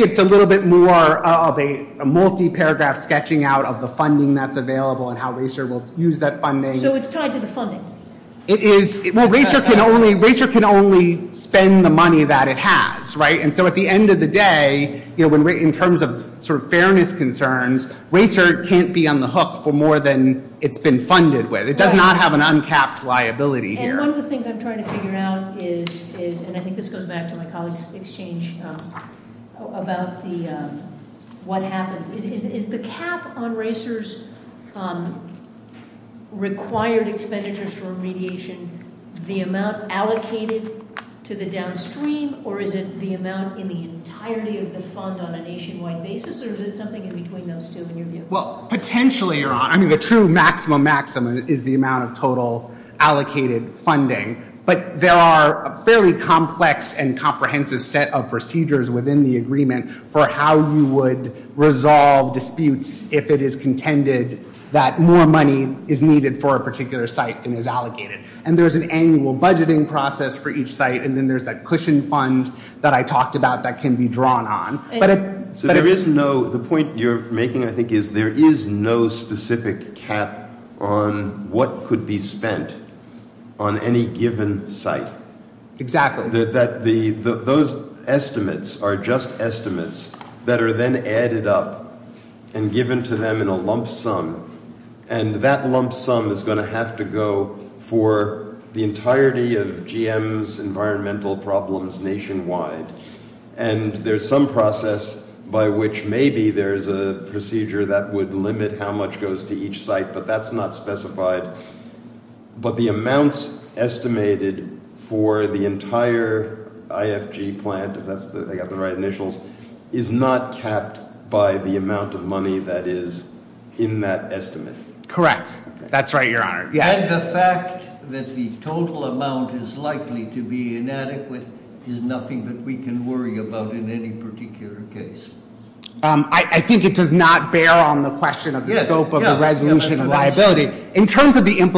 it's a little bit more of a multi-paragraph sketching out of the funding that's available and how racer will use that funding. Racer can only spend the money that it has. At the end of the day, in terms of fairness concerns, racer can't be on the hook for more than it's been funded with. It doesn't have an uncapped liability. Is the cap on racers required expenditures for remediation the amount allocated to the downstream or is it the amount in the entirety of the fund on a nationwide basis? Or is it something in between? The true maximum is the amount of total allocated funding. There are a fairly complex and comprehensive set of procedures for how you would resolve disputes if it is contended that more money is allocated for a particular site. There is an annual budgeting process for each site. There is a cushion fund that can be drawn on. There is no specific cap on what could be spent on any given site. Those estimates are just estimates that are then added up and given to them in the end. That lump sum is going to have to go for the entirety of GM's environmental problems nationwide. There is some process by which maybe there is a procedure that would limit how much goes to each site. That is not specified. The amounts estimated for the entire IFG plant is not capped by the amount of money that is in that estimate. The fact that the total amount is likely to be inadequate is nothing we can worry about in any particular case. I think it does not bear on the question. In terms of the issue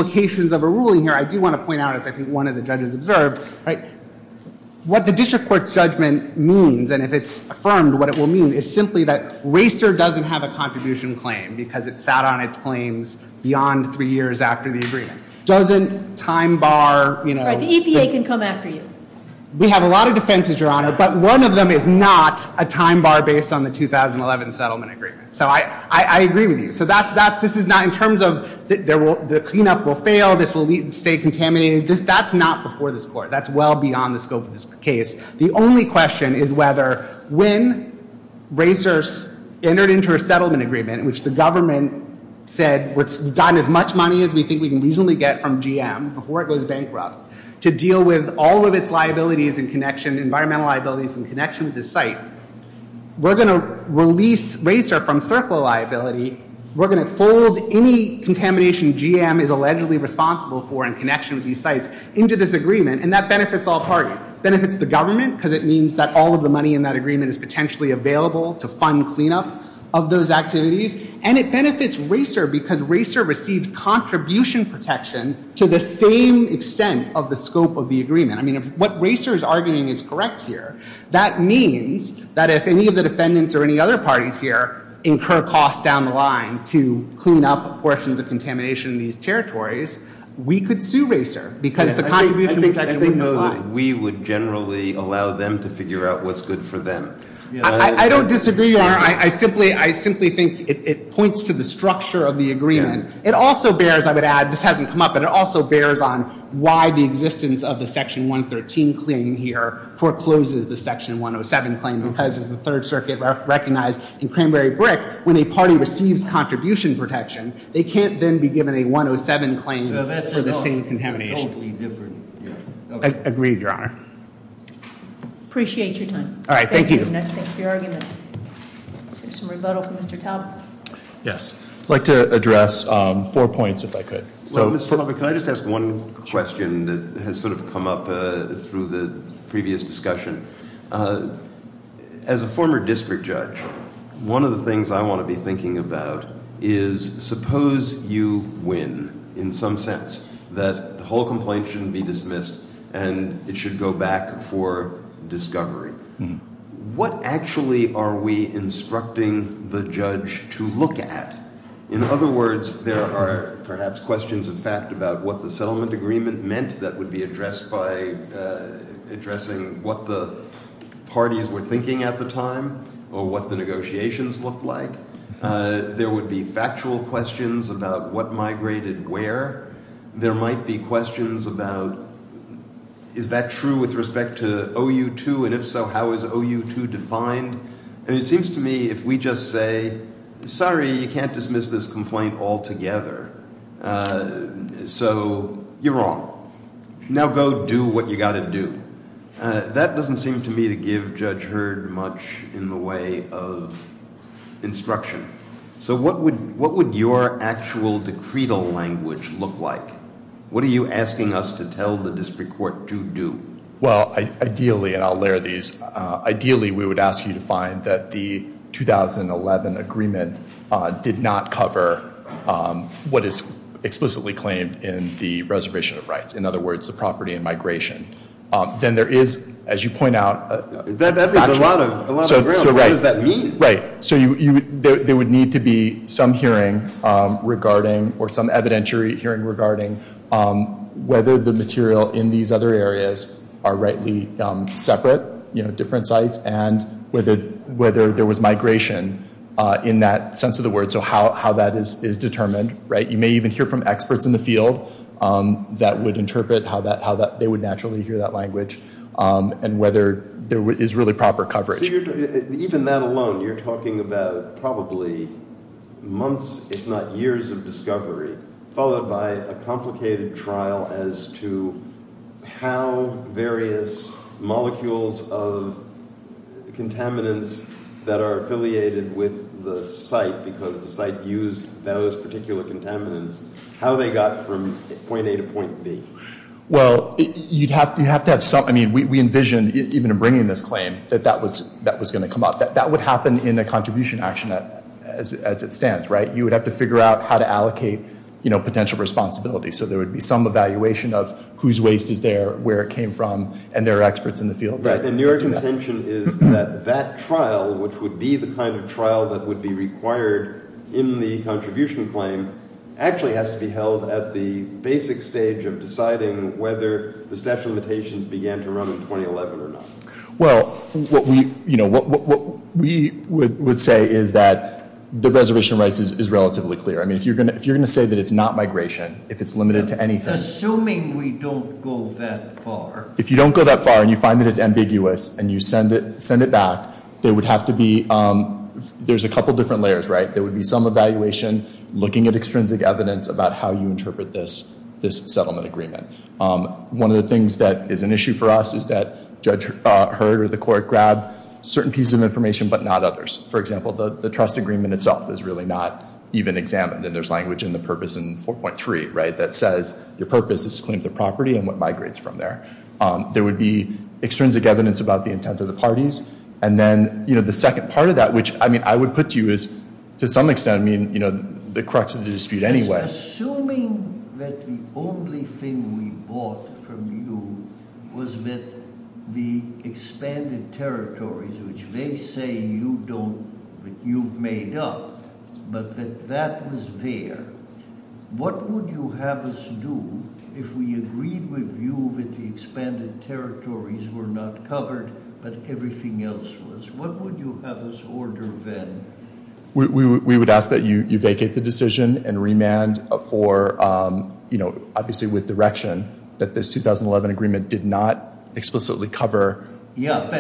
that the judges observed, what the district court judgment means is that RACER does not have a contribution it sat on it beyond three years after the agreement. We have a lot of defenses but one is not a time bar based on the case. The only question is whether when RACER entered into a settlement agreement which the government said we can get from GM to deal with all of its liabilities and connections we are going to release RACER from liability and that benefits all parties. It benefits the government because it means all of the money is available to fund cleanup and it benefits RACER because it receives contribution protection to the same extent of the scope of the agreement. That means that if any of the parties in the territories we could sue RACER. I think we would generally allow them to figure out what is good for them. I don't disagree. I simply think it points to the structure of the agreement. It also bears on why the existence of the section 113 forecloses the section 107 claim. When a party receives contribution protection they can't be given a 107 claim. I agree your honor. Appreciate your time. Thank you. I would like to address four points if I could. Can I just ask one question that has come up through the previous discussion. As a former district judge, one of the things I want to be thinking about is suppose you win in some sense that the whole complaint shouldn't be dismissed and it should go back for discovery. What actually are we instructing the judge to look at? In other words, there are perhaps questions of what the settlement agreement meant that would be addressed by addressing what the parties were thinking at the time or what the negotiations looked like. There would be factual questions about what migrated where. There might be questions about is that true with respect to OU2 and if so how is OU2 defined. It seems to me if we just say sorry you can't dismiss this complaint all together so you're wrong. Now go do what you got to do. That doesn't seem to me to give judge Hurd much in the way of instruction. So what would your actual language look like? What are you asking us to tell the district court to do? Ideally we would ask you to find that the 2011 agreement did not cover what is explicitly claimed in the reservation of rights. In other words the property and migration. Then there is as you point out a lot of ground. What does that mean? There would need to be some hearing regarding whether the material in these other areas are rightly separate different sites and whether there was migration in that sense of the word. So how that is determined. You may even hear from experts in the field that would interpret how they would naturally hear that language and whether there is really proper coverage. Even that alone you are talking about probably months if not years of discovery followed by a complicated trial as to how various molecules of contaminants that are affiliated with the site because the site used those particular contaminants. How they got from point A to point B. We envision even bringing this claim that that was going to come up. That would happen in a contribution action as it stands. You would have to figure out how to allocate potential responsibility. There would be some evaluation of whose waste is there, where it came from. That trial would be the kind of trial that would be required in the contribution claim actually has to be held at the basic stage of deciding whether the limitations began to occur. If you're going to say it's not migration, if it's limited to anything. If you don't go that far and you find it ambiguous and you send it back, there's a couple different layers. There would be some evaluation looking at extrinsic evidence about how you interpret this settlement agreement. One of the things that is an issue for us is that certain pieces of information but not others. For example, the trust agreement itself is not even examined. There would be extrinsic evidence about the intent of the parties. The second part of that, which I would put to you is the crux of the dispute anyway. Assuming that the only thing we bought from you was the expanded territories which they say you made up but that was there, what would you have us do if we agreed with you that the expanded territories included in the agreement? We would ask that you vacate the decision and remand with direction that this agreement did not explicitly cover. We would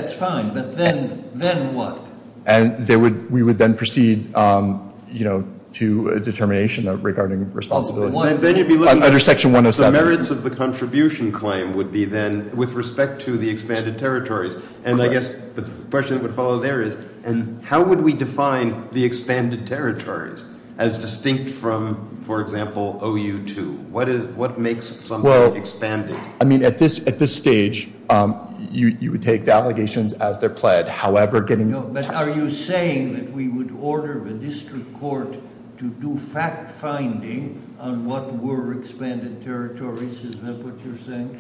then proceed to a determination regarding responsibility. Under section 107. The merits of the contribution claim would be then with respect to the expanded territories. How would we define the expanded territories as distinct from OU2? At this stage, you would take the allegations as they are pledged. Are you saying that we would order the district court to that?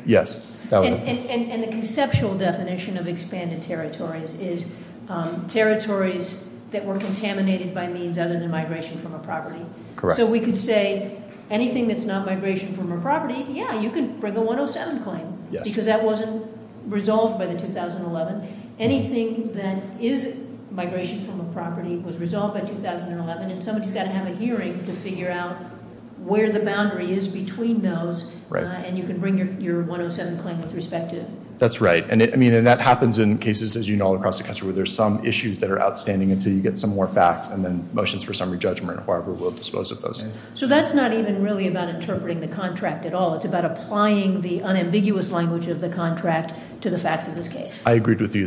Yes. And the conceptual definition of expanded territories is territories that were contaminated by means other than migration from a property. So we can say anything that's not migration from a property, yeah, you can bring a 107 claim. Because that wasn't resolved by the 2011. Anything that is migration from a property was resolved by 2011. Someone has to have a hearing to figure out where the boundary is between those. And you can bring your 107 claim with respect to it. That's right. That happens in cases where there are some issues that are outstanding and motions for summary judgment. So that's not even really about interpreting the contract at all. It's about applying the unambiguous language of the contract to the fact of this case. I agree with you.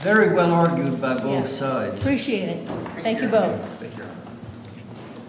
Very good argument by both sides. Appreciate it. Thank you both. Thank you.